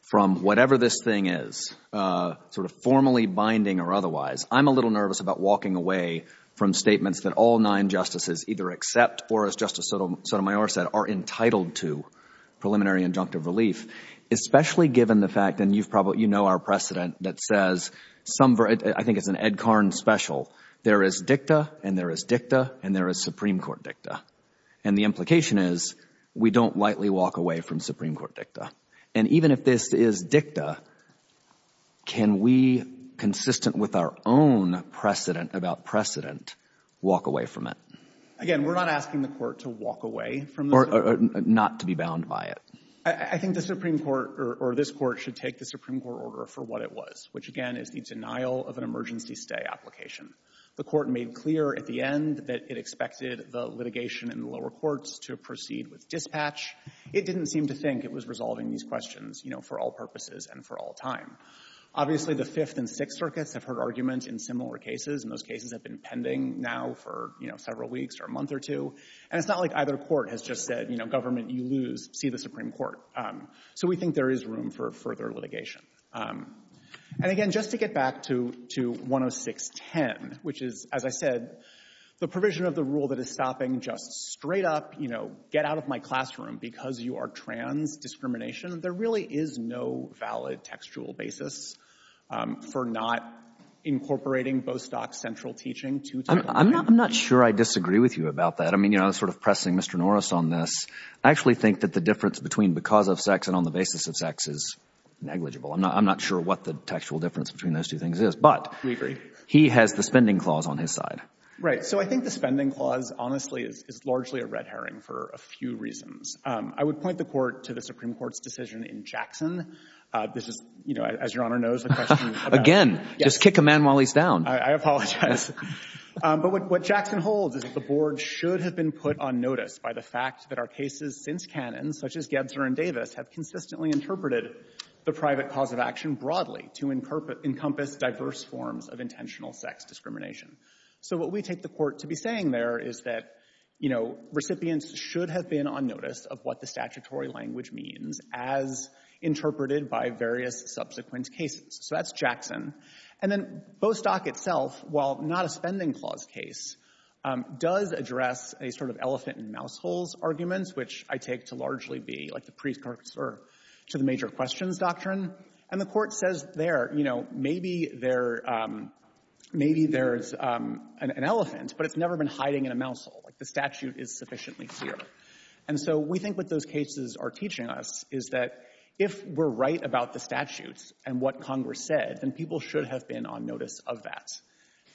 from whatever this thing is, sort of formally binding or otherwise. I'm a little nervous about walking away from statements that all nine Justices, either accept or, as Justice Sotomayor said, are entitled to preliminary injunctive relief, especially given the fact, and you've probably, you know our precedent that says some, I think it's an Ed Karn special, there is dicta and there is dicta and there is Supreme Court dicta. And the implication is we don't lightly walk away from Supreme Court dicta. And even if this is dicta, can we, consistent with our own precedent about precedent, walk away from it? Again, we're not asking the Court to walk away from this. Or not to be bound by it. I think the Supreme Court, or this Court, should take the Supreme Court order for what it was, which again is the denial of an emergency stay application. The Court made clear at the end that it expected the litigation in the lower courts to proceed with dispatch. It didn't seem to think it was resolving these questions, you know, for all purposes and for all time. Obviously, the Fifth and Sixth Circuits have heard arguments in similar cases, and those cases have been pending now for, you know, several weeks or a month or two. And it's not like either court has just said, you know, government, you lose, see the Supreme Court. So we think there is room for further litigation. And again, just to get back to 10610, which is, as I said, the provision of the rule that is stopping just straight up, you know, get out of my classroom because you are trans discrimination, there really is no valid textual basis for not incorporating Bostock's central teaching to Title IX. I'm not sure I disagree with you about that. I mean, you know, I was sort of pressing Mr. Norris on this. I actually think that the difference between because of sex and on the basis of sex is negligible. I'm not sure what the textual difference between those two things is. But he has the spending clause on his side. Right. So I think the spending clause, honestly, is largely a red herring for a few reasons. I would point the Court to the Supreme Court's decision in Jackson. This is, you know, as Your Honor knows, the question about— Again, just kick a man while he's down. I apologize. But what Jackson holds is that the Board should have been put on notice by the fact that our cases since canon, such as Gebser and Davis, have consistently interpreted the private cause of action broadly to encompass diverse forms of intentional sex discrimination. So what we take the Court to be saying there is that, you know, recipients should have been on notice of what the statutory language means as interpreted by various subsequent cases. So that's Jackson. And then Bostock itself, while not a spending clause case, does address a sort of elephant-in-mouseholes argument, which I take to largely be, like, the precursor to the major questions doctrine. And the Court says there, you know, maybe there's an elephant, but it's never been hiding in a mousehole. Like, the statute is sufficiently clear. And so we think what those cases are teaching us is that if we're right about the and what Congress said, then people should have been on notice of that.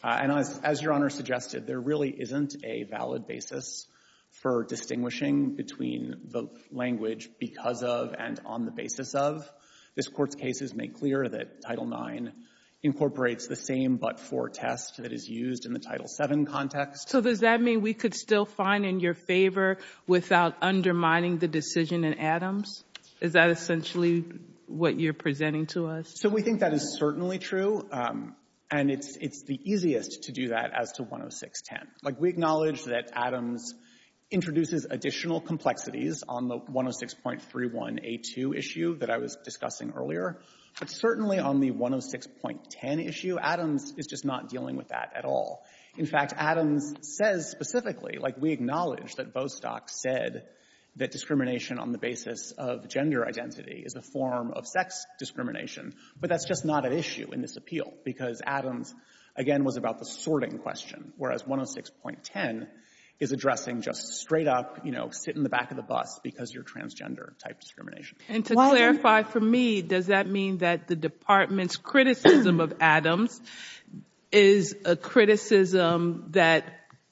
And as Your Honor suggested, there really isn't a valid basis for distinguishing between the language because of and on the basis of. This Court's cases make clear that Title IX incorporates the same but-for test that is used in the Title VII context. So does that mean we could still find in your favor without undermining the decision in Adams? Is that essentially what you're presenting to us? So we think that is certainly true. And it's the easiest to do that as to 10610. Like, we acknowledge that Adams introduces additional complexities on the 106.31a2 issue that I was discussing earlier. But certainly on the 106.10 issue, Adams is just not dealing with that at all. In fact, Adams says specifically, like, we acknowledge that Bostock said that discrimination on the basis of gender identity is a form of sex discrimination. But that's just not an issue in this appeal because Adams, again, was about the sorting question, whereas 106.10 is addressing just straight up, you know, sit in the back of the bus because you're transgender type discrimination. And to clarify for me, does that mean that the Department's criticism of Adams is a criticism that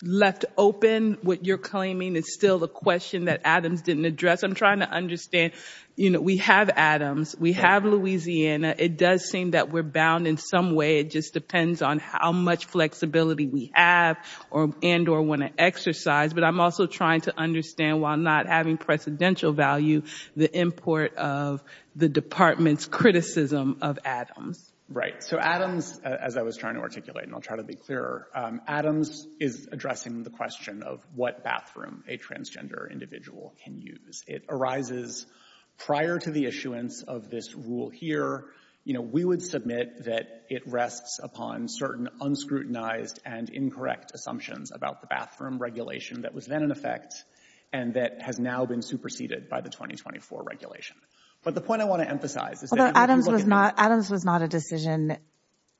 left open what you're claiming is still a question that Adams didn't address? I'm trying to understand, you know, we have Adams, we have Louisiana. It does seem that we're bound in some way. It just depends on how much flexibility we have and or want to exercise. But I'm also trying to understand, while not having precedential value, the import of the Department's criticism of Adams. Right. So Adams, as I was trying to articulate, and I'll try to be clearer, Adams is addressing the question of what bathroom a transgender individual can use. It arises prior to the issuance of this rule here. You know, we would submit that it rests upon certain unscrutinized and incorrect assumptions about the bathroom regulation that was then in effect and that has now been superseded by the 2024 regulation. But the point I want to emphasize is that Adams was not Adams was not a decision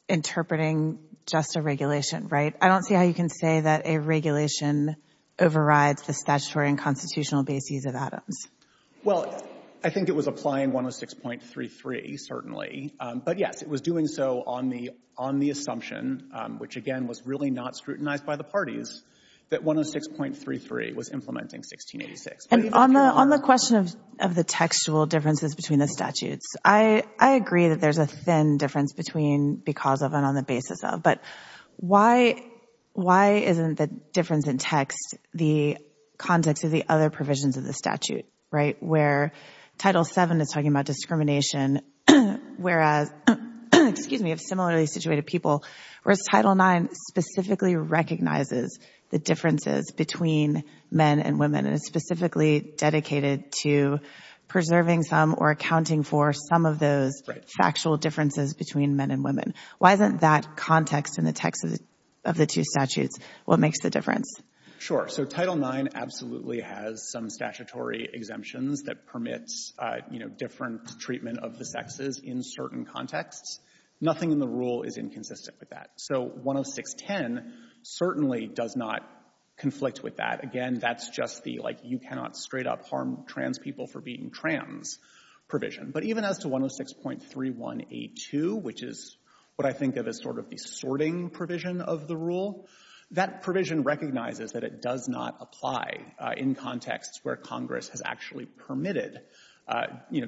interpreting just a regulation. Right. I don't see how you can say that a regulation overrides the statutory and constitutional basis of Adams. Well, I think it was applying 106.33, certainly. But yes, it was doing so on the on the assumption, which, again, was really not scrutinized by the parties, that 106.33 was implementing 1686. And on the on the question of of the textual differences between the statutes, I I agree that there's a thin difference between because of and on the basis of. But why why isn't the difference in text the context of the other provisions of the statute? Right. Where Title VII is talking about discrimination, whereas, excuse me, of similarly situated people, whereas Title IX specifically recognizes the differences between men and women and is specifically dedicated to preserving some or accounting for some of those factual differences between men and women. Why isn't that context in the text of the two statutes? What makes the difference? So Title IX absolutely has some statutory exemptions that permits, you know, different treatment of the sexes in certain contexts. Nothing in the rule is inconsistent with that. So 106.10 certainly does not conflict with that. Again, that's just the like you cannot straight up harm trans people for being trans provision. But even as to 106.3182, which is what I think of as sort of the sorting provision of the rule, that provision recognizes that it does not apply in contexts where Congress has actually permitted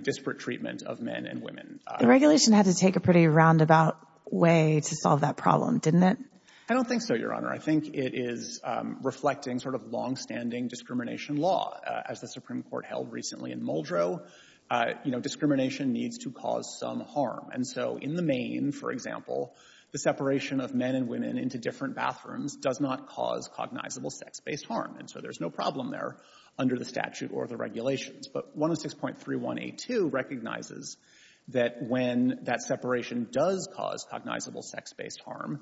disparate treatment of men and women. The regulation had to take a pretty roundabout way to solve that problem, didn't it? I don't think so, Your Honor. I think it is reflecting sort of longstanding discrimination law. As the Supreme Court held recently in Muldrow, you know, discrimination needs to cause some harm. And so in the main, for example, the separation of men and women into different bathrooms does not cause cognizable sex-based harm. And so there's no problem there under the statute or the regulations. But 106.3182 recognizes that when that separation does cause cognizable sex-based harm,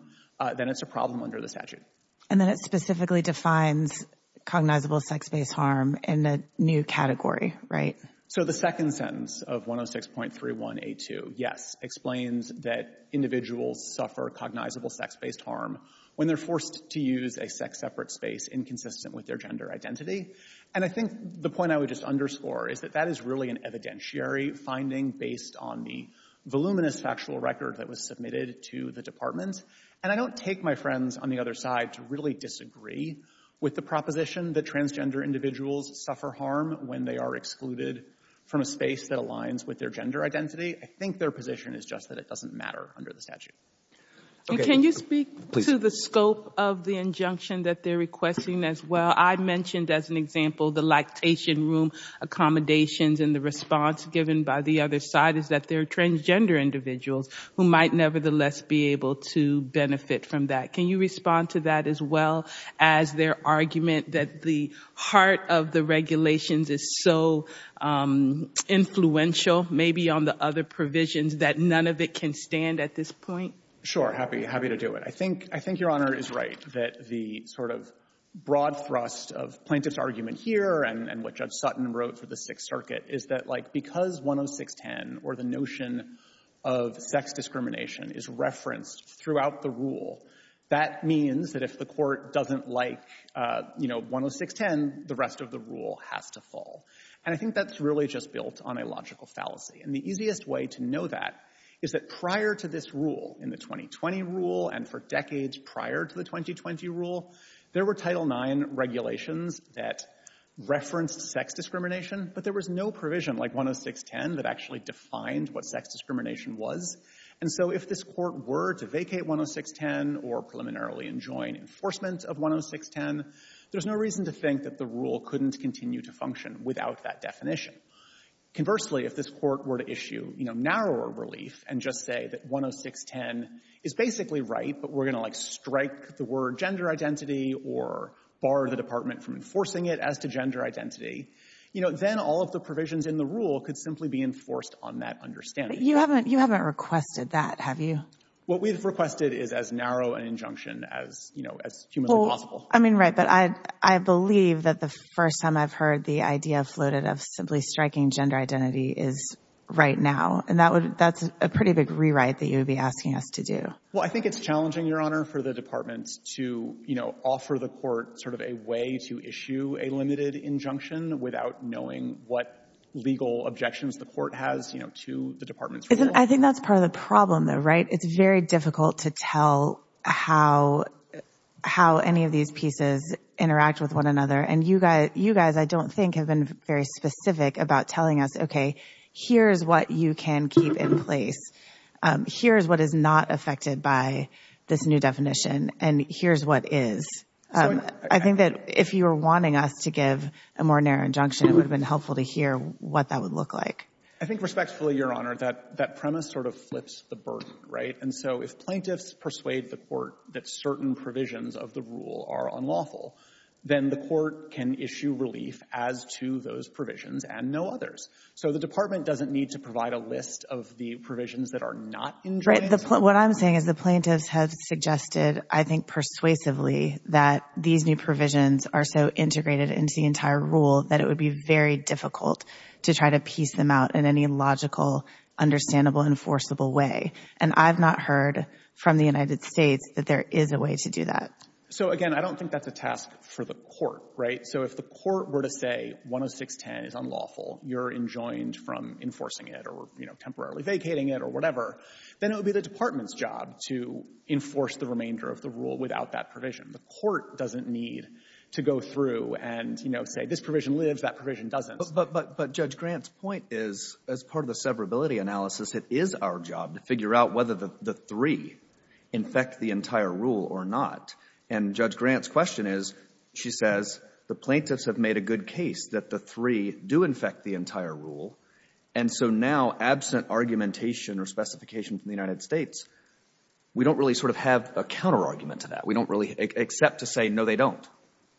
then it's a problem under the statute. And then it specifically defines cognizable sex-based harm in a new category, right? So the second sentence of 106.3182, yes, explains that individuals suffer cognizable sex-based harm when they're forced to use a sex-separate space inconsistent with their gender identity. And I think the point I would just underscore is that that is really an evidentiary finding based on the voluminous factual record that was submitted to the Department. And I don't take my friends on the other side to really disagree with the proposition that transgender individuals suffer harm when they are excluded from a space that aligns with their gender identity. I think their position is just that it doesn't matter under the statute. Okay. Can you speak to the scope of the injunction that they're requesting as well? I mentioned as an example the lactation room accommodations. And the response given by the other side is that they're transgender individuals who might nevertheless be able to benefit from that. Can you respond to that as well as their argument that the heart of the regulations is so influential maybe on the other provisions that none of it can stand at this point? Sure. Happy to do it. I think Your Honor is right that the sort of broad thrust of plaintiff's argument here and what Judge Sutton wrote for the Sixth Circuit is that, like, because 106.10 or the notion of sex discrimination is referenced throughout the rule, that means that if the court doesn't like, you know, 106.10, the rest of the rule has to fall. And I think that's really just built on a logical fallacy. And the easiest way to know that is that prior to this rule in the 2020 rule and for decades prior to the 2020 rule, there were Title IX regulations that referenced sex discrimination, but there was no provision like 106.10 that actually defined what sex discrimination was. And so if this Court were to vacate 106.10 or preliminarily enjoin enforcement of 106.10, there's no reason to think that the rule couldn't continue to function without that definition. Conversely, if this Court were to issue, you know, narrower relief and just say that 106.10 is basically right, but we're going to, like, strike the word gender identity or bar the Department from enforcing it as to gender identity, you know, then all of the provisions in the rule could simply be enforced on that understanding. But you haven't requested that, have you? What we've requested is as narrow an injunction as, you know, as humanly possible. I mean, right, but I believe that the first time I've heard the idea floated of simply striking gender identity is right now, and that's a pretty big rewrite that you'd be asking us to do. Well, I think it's challenging, Your Honor, for the Department to, you know, offer the Court sort of a way to issue a limited injunction without knowing what legal objections the Court has, you know, to the Department's rule. I think that's part of the problem, though, right? It's very difficult to tell how any of these pieces interact with one another. And you guys, I don't think, have been very specific about telling us, okay, here's what you can keep in place. Here's what is not affected by this new definition. And here's what is. I think that if you were wanting us to give a more narrow injunction, it would have been helpful to hear what that would look like. I think respectfully, Your Honor, that premise sort of flips the burden, right? And so if plaintiffs persuade the Court that certain provisions of the rule are unlawful, then the Court can issue relief as to those provisions and no others. So the Department doesn't need to provide a list of the provisions that are not injunctions. What I'm saying is the plaintiffs have suggested, I think persuasively, that these new provisions are so integrated into the entire rule that it would be very difficult to try to piece them out in any logical, understandable, enforceable way. And I've not heard from the United States that there is a way to do that. So, again, I don't think that's a task for the Court, right? So if the Court were to say 10610 is unlawful, you're enjoined from enforcing it or, you know, temporarily vacating it or whatever, then it would be the Department's job to enforce the remainder of the rule without that provision. The Court doesn't need to go through and, you know, say this provision lives, that provision doesn't. But Judge Grant's point is, as part of the severability analysis, it is our job to figure out whether the three infect the entire rule or not. And Judge Grant's question is, she says the plaintiffs have made a good case that the three do infect the entire rule. And so now, absent argumentation or specification from the United States, we don't really sort of have a counterargument to that. We don't really accept to say, no, they don't.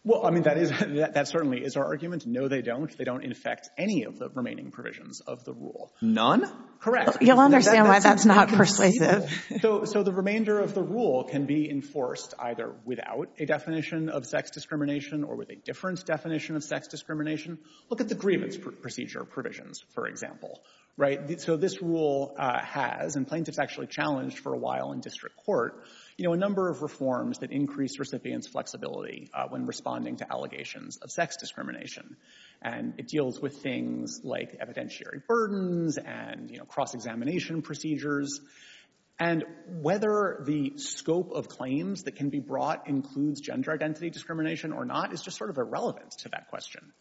Well, I mean, that certainly is our argument. No, they don't. They don't infect any of the remaining provisions of the rule. None? Correct. You'll understand why that's not persuasive. So the remainder of the rule can be enforced either without a definition of sex discrimination or with a different definition of sex discrimination. Look at the grievance procedure provisions, for example, right? So this rule has, and plaintiffs actually challenged for a while in district court, you know, a number of reforms that increase recipients' flexibility when responding to allegations of sex discrimination. And it deals with things like evidentiary burdens and, you know, cross-examination procedures. And whether the scope of claims that can be brought includes gender identity discrimination or not is just sort of irrelevant to that question.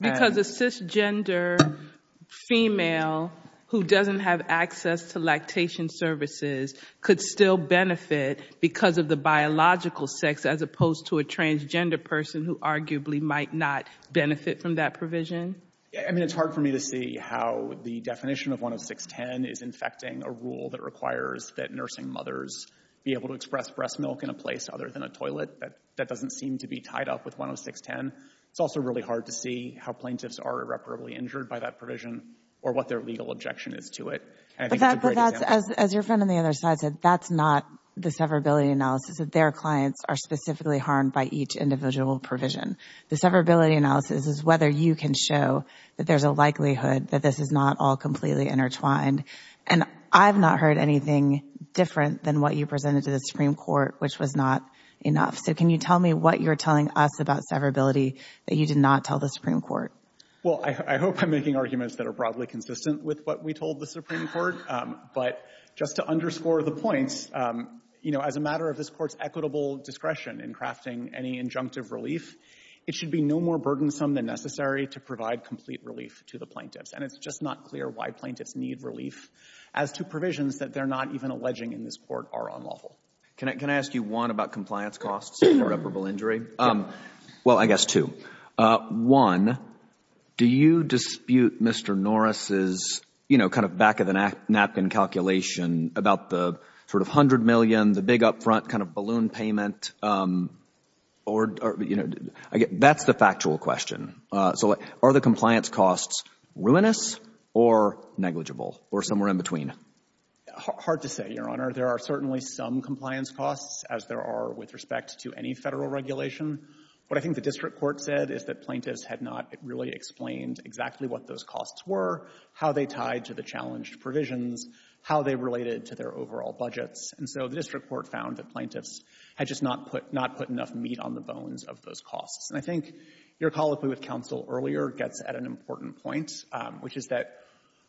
Because a cisgender female who doesn't have access to lactation services could still benefit because of the biological sex as opposed to a transgender person who arguably might not benefit from that provision? I mean, it's hard for me to see how the definition of 10610 is infecting a rule that requires that nursing mothers be able to express breast milk in a place other than a toilet. That doesn't seem to be tied up with 10610. It's also really hard to see how plaintiffs are irreparably injured by that provision or what their legal objection is to it. And I think it's a great example. But that's, as your friend on the other side said, that's not the severability analysis that their clients are specifically harmed by each individual provision. The severability analysis is whether you can show that there's a likelihood that this is not all completely intertwined. And I've not heard anything different than what you presented to the Supreme Court, which was not enough. So can you tell me what you're telling us about severability that you did not tell the Supreme Court? Well, I hope I'm making arguments that are broadly consistent with what we told the Supreme Court. But just to underscore the points, you know, as a matter of this court's equitable discretion in crafting any injunctive relief, it should be no more burdensome than necessary to provide complete relief to the plaintiffs. And it's just not clear why plaintiffs need relief as to provisions that they're not even alleging in this court are unlawful. Can I ask you one about compliance costs for irreparable injury? Well, I guess two. One, do you dispute Mr. Norris's, you know, kind of back of the napkin calculation about the sort of $100 million, the big upfront kind of balloon payment? That's the factual question. So are the compliance costs ruinous or negligible or somewhere in between? Hard to say, Your Honor. There are certainly some compliance costs, as there are with respect to any Federal regulation. What I think the district court said is that plaintiffs had not really explained exactly what those costs were, how they tied to the challenged provisions, how they related to their overall budgets. And so the district court found that plaintiffs had just not put enough meat on the bones of those costs. And I think your colloquy with counsel earlier gets at an important point, which is that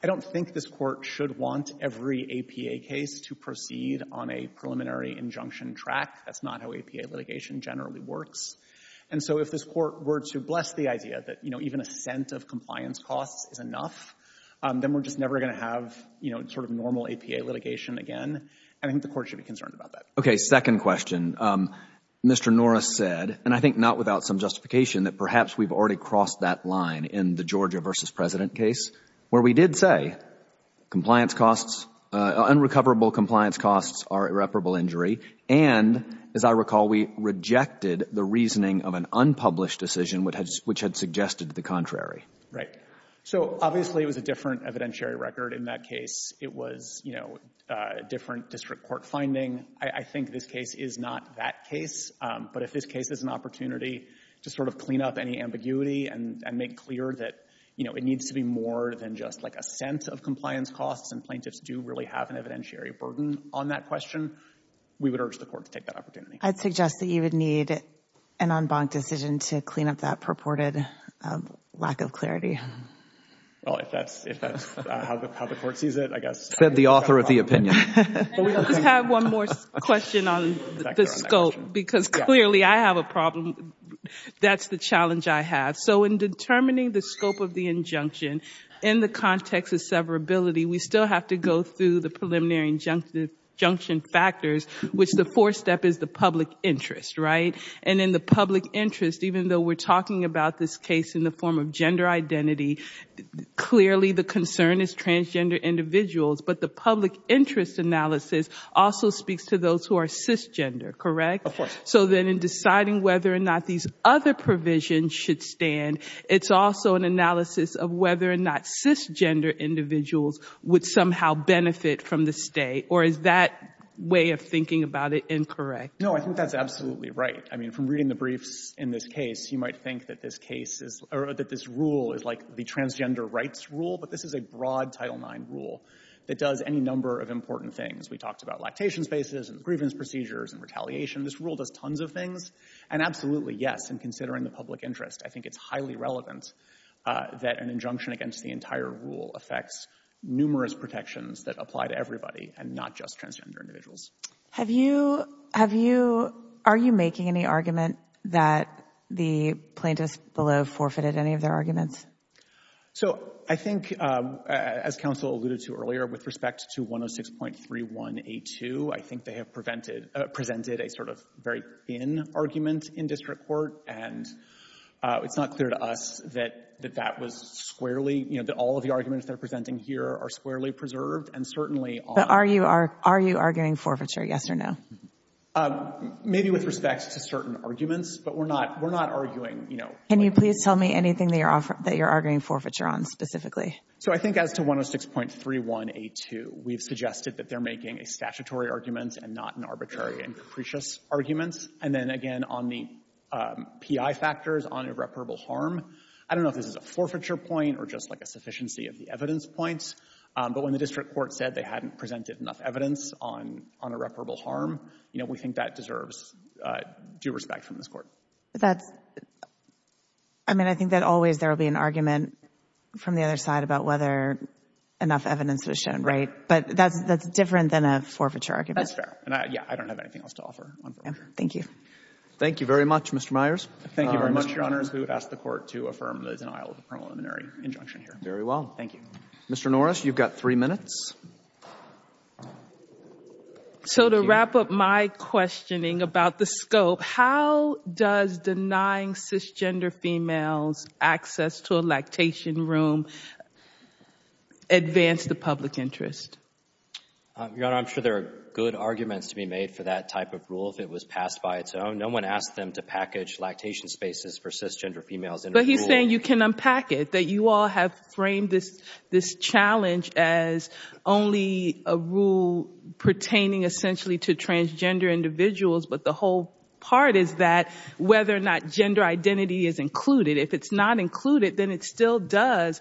I don't think this Court should want every APA case to proceed on a preliminary injunction track. That's not how APA litigation generally works. And so if this Court were to bless the idea that, you know, even a cent of compliance costs is enough, then we're just never going to have, you know, sort of normal APA litigation again. I think the Court should be concerned about that. Second question. Mr. Norris said, and I think not without some justification, that perhaps we've already crossed that line in the Georgia v. President case, where we did say compliance costs, unrecoverable compliance costs are irreparable injury. And as I recall, we rejected the reasoning of an unpublished decision which had suggested the contrary. So obviously, it was a different evidentiary record in that case. It was, you know, different district court finding. I think this case is not that case. But if this case is an opportunity to sort of clean up any ambiguity and make clear that, you know, it needs to be more than just like a cent of compliance costs, and plaintiffs do really have an evidentiary burden on that question, we would urge the Court to take that opportunity. I'd suggest that you would need an en banc decision to clean up that purported lack of Well, if that's how the Court sees it, I guess. Said the author of the opinion. We just have one more question on the scope, because clearly I have a problem. That's the challenge I have. So in determining the scope of the injunction, in the context of severability, we still have to go through the preliminary injunction factors, which the fourth step is the public interest, right? And in the public interest, even though we're talking about this case in the form of gender analysis, also speaks to those who are cisgender, correct? Of course. So then in deciding whether or not these other provisions should stand, it's also an analysis of whether or not cisgender individuals would somehow benefit from the stay. Or is that way of thinking about it incorrect? No, I think that's absolutely right. I mean, from reading the briefs in this case, you might think that this case is or that this rule is like the transgender rights rule. But this is a broad Title IX rule that does any number of important things. We talked about lactation spaces and grievance procedures and retaliation. This rule does tons of things. And absolutely, yes, in considering the public interest, I think it's highly relevant that an injunction against the entire rule affects numerous protections that apply to everybody and not just transgender individuals. Are you making any argument that the plaintiffs below forfeited any of their arguments? So I think, as counsel alluded to earlier, with respect to 106.31a2, I think they have presented a sort of very thin argument in district court. And it's not clear to us that that was squarely, you know, that all of the arguments they're presenting here are squarely preserved. And certainly, are you arguing forfeiture, yes or no? Maybe with respect to certain arguments. But we're not arguing, you know. Can you please tell me anything that you're arguing forfeiture on specifically? So I think as to 106.31a2, we've suggested that they're making a statutory argument and not an arbitrary and capricious argument. And then again, on the PI factors on irreparable harm, I don't know if this is a forfeiture point or just like a sufficiency of the evidence points. But when the district court said they hadn't presented enough evidence on irreparable harm, you know, we think that deserves due respect from this court. That's, I mean, I think that always there will be an argument from the other side about whether enough evidence was shown, right? But that's different than a forfeiture argument. That's fair. And yeah, I don't have anything else to offer on forfeiture. Thank you. Thank you very much, Mr. Myers. Thank you very much, Your Honors. We would ask the Court to affirm the denial of the preliminary injunction here. Very well. Thank you. Mr. Norris, you've got three minutes. Thank you. So to wrap up my questioning about the scope, how does denying cisgender females access to a lactation room advance the public interest? Your Honor, I'm sure there are good arguments to be made for that type of rule if it was passed by its own. No one asked them to package lactation spaces for cisgender females in a rule. But he's saying you can unpack it, that you all have framed this challenge as, well, only a rule pertaining essentially to transgender individuals. But the whole part is that whether or not gender identity is included. If it's not included, then it still does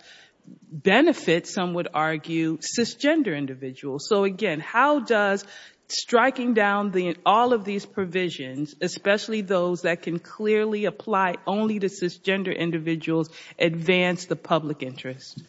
benefit, some would argue, cisgender individuals. So again, how does striking down all of these provisions, especially those that can clearly apply only to cisgender individuals, advance the public interest?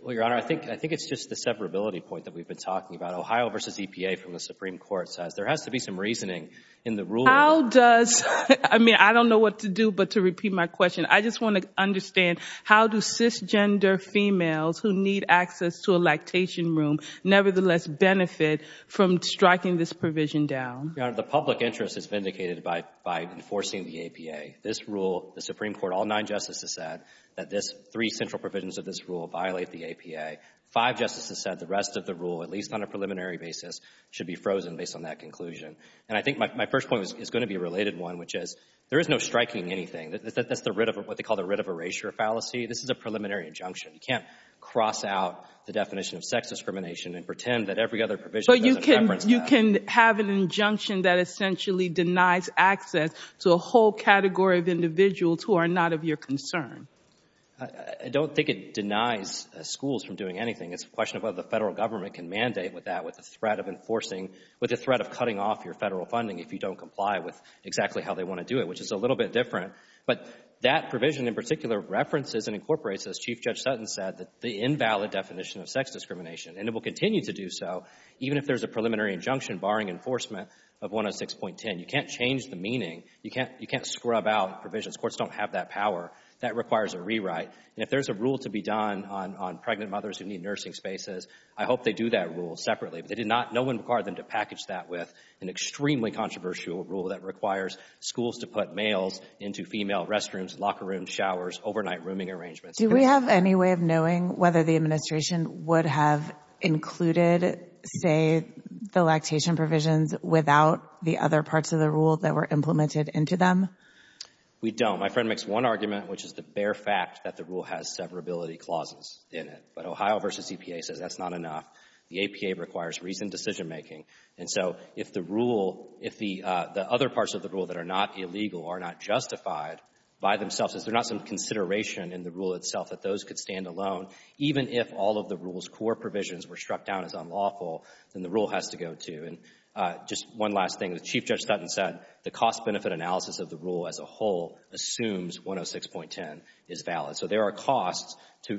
Well, Your Honor, I think it's just the separability point that we've been talking about. Ohio v. EPA from the Supreme Court says there has to be some reasoning in the rule. How does, I mean, I don't know what to do but to repeat my question. I just want to understand how do cisgender females who need access to a lactation room nevertheless benefit from striking this provision down? Your Honor, the public interest is vindicated by enforcing the APA. This rule, the Supreme Court, all nine justices said that three central provisions of this rule violate the APA. Five justices said the rest of the rule, at least on a preliminary basis, should be frozen based on that conclusion. And I think my first point is going to be a related one, which is there is no striking anything. That's what they call the writ of erasure fallacy. This is a preliminary injunction. You can't cross out the definition of sex discrimination and pretend that every other provision doesn't reference that. But you can have an injunction that essentially denies access to a whole category of individuals who are not of your concern. I don't think it denies schools from doing anything. It's a question of whether the Federal Government can mandate that with the threat of enforcing, with the threat of cutting off your Federal funding if you don't comply with exactly how they want to do it, which is a little bit different. But that provision in particular references and incorporates, as Chief Judge Sutton said, the invalid definition of sex discrimination. And it will continue to do so even if there's a preliminary injunction barring enforcement of 106.10. You can't change the meaning. You can't scrub out provisions. Courts don't have that power. That requires a rewrite. And if there's a rule to be done on pregnant mothers who need nursing spaces, I hope they do that rule separately. But they did not, no one required them to package that with an extremely controversial rule that requires schools to put males into female restrooms, locker rooms, showers, overnight rooming arrangements. Do we have any way of knowing whether the administration would have included, say, the lactation provisions without the other parts of the rule that were implemented into them? We don't. My friend makes one argument, which is the bare fact that the rule has severability clauses in it. But Ohio v. EPA says that's not enough. The APA requires reasoned decision making. And so if the rule, if the other parts of the rule that are not illegal are not justified by themselves, is there not some consideration in the rule itself that those could stand alone, even if all of the rule's core provisions were struck down as unlawful, then the rule has to go too. And just one last thing. Chief Judge Stutton said the cost-benefit analysis of the rule as a whole assumes 106.10 is valid. So there are costs to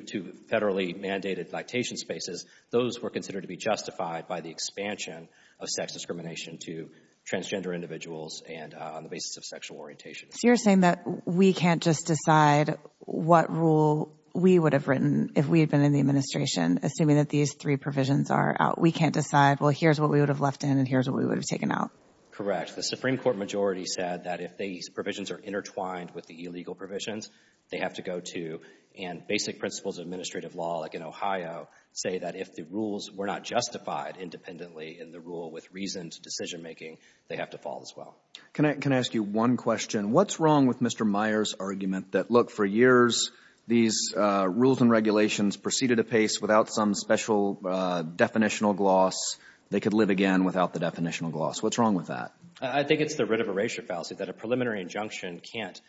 federally mandated lactation spaces. Those were considered to be justified by the expansion of sex discrimination to transgender individuals and on the basis of sexual orientation. So you're saying that we can't just decide what rule we would have written if we had been in the administration, assuming that these three provisions are out. We can't decide, well, here's what we would have left in and here's what we would have taken out. Correct. The Supreme Court majority said that if these provisions are intertwined with the illegal provisions, they have to go too. And basic principles of administrative law, like in Ohio, say that if the rules were not justified independently in the rule with reasoned decision making, they have to fall as well. Can I ask you one question? What's wrong with Mr. Meyer's argument that, look, for years, these rules and regulations proceeded apace without some special definitional gloss. They could live again without the definitional gloss. What's wrong with that? I think it's the writ of erasure fallacy that a preliminary injunction can't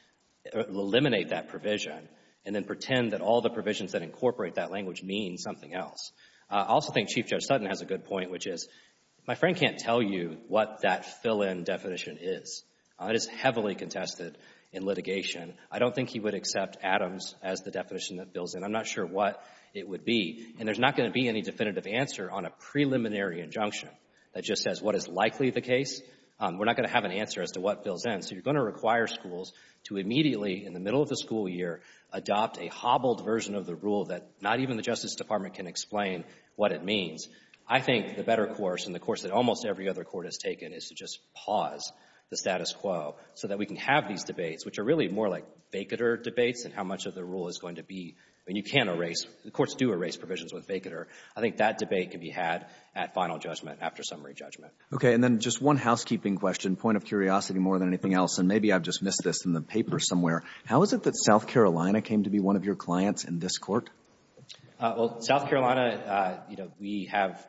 eliminate that provision and then pretend that all the provisions that incorporate that language mean something else. I also think Chief Judge Sutton has a good point, which is, my friend can't tell you what that fill-in definition is. It is heavily contested in litigation. I don't think he would accept Adams as the definition that fills in. I'm not sure what it would be. And there's not going to be any definitive answer on a preliminary injunction that just says what is likely the case. We're not going to have an answer as to what fills in. So you're going to require schools to immediately, in the middle of the school year, adopt a hobbled version of the rule that not even the Justice Department can explain what it means. I think the better course and the course that almost every other court has taken is to just pause the status quo so that we can have these debates, which are really more like Bakatter debates and how much of the rule is going to be — I mean, you can't erase — the courts do erase provisions with Bakatter. I think that debate can be had at final judgment, after summary judgment. And then just one housekeeping question, point of curiosity more than anything else, and maybe I've just missed this in the paper somewhere. How is it that South Carolina came to be one of your clients in this court? Well, South Carolina, you know, we have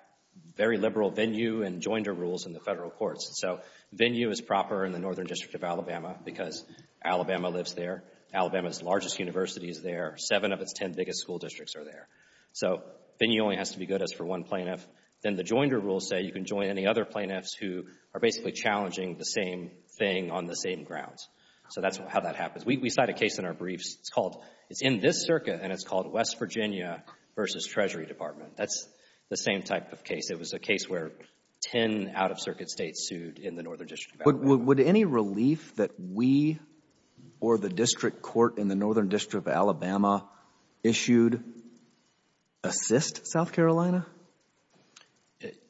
very liberal venue and joinder rules in the federal courts. So venue is proper in the Northern District of Alabama because Alabama lives there. Alabama's largest university is there. Seven of its ten biggest school districts are there. So venue only has to be good as for one plaintiff. Then the joinder rules say you can join any other plaintiffs who are basically challenging the same thing on the same grounds. So that's how that happens. We cite a case in our briefs. It's called — it's in this circuit, and it's called West Virginia v. Treasury Department. That's the same type of case. It was a case where 10 out-of-circuit States sued in the Northern District of Alabama. Would any relief that we or the district court in the Northern District of Alabama issued assist South Carolina?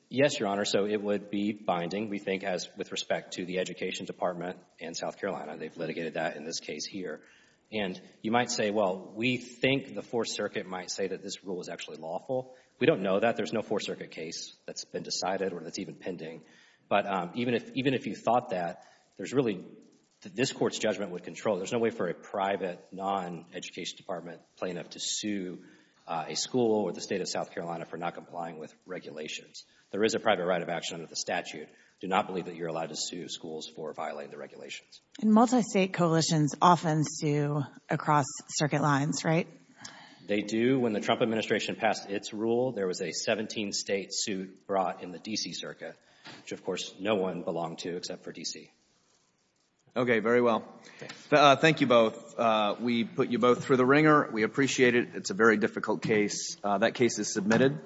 Yes, Your Honor. So it would be binding, we think, as with respect to the Education Department and South Carolina. They've litigated that in this case here. And you might say, well, we think the Fourth Circuit might say that this rule is actually lawful. We don't know that. There's no Fourth Circuit case that's been decided or that's even pending. But even if you thought that, there's really — this court's judgment would control. There's no way for a private, non-Education Department plaintiff to sue a school or the state of South Carolina for not complying with regulations. There is a private right of action under the statute. Do not believe that you're allowed to sue schools for violating the regulations. And multi-state coalitions often sue across circuit lines, right? They do. When the Trump administration passed its rule, there was a 17-state suit brought in the D.C. circuit, which, of course, no one belonged to except for D.C. OK, very well. Thank you both. We put you both through the ringer. We appreciate it. It's a very difficult case. That case is submitted.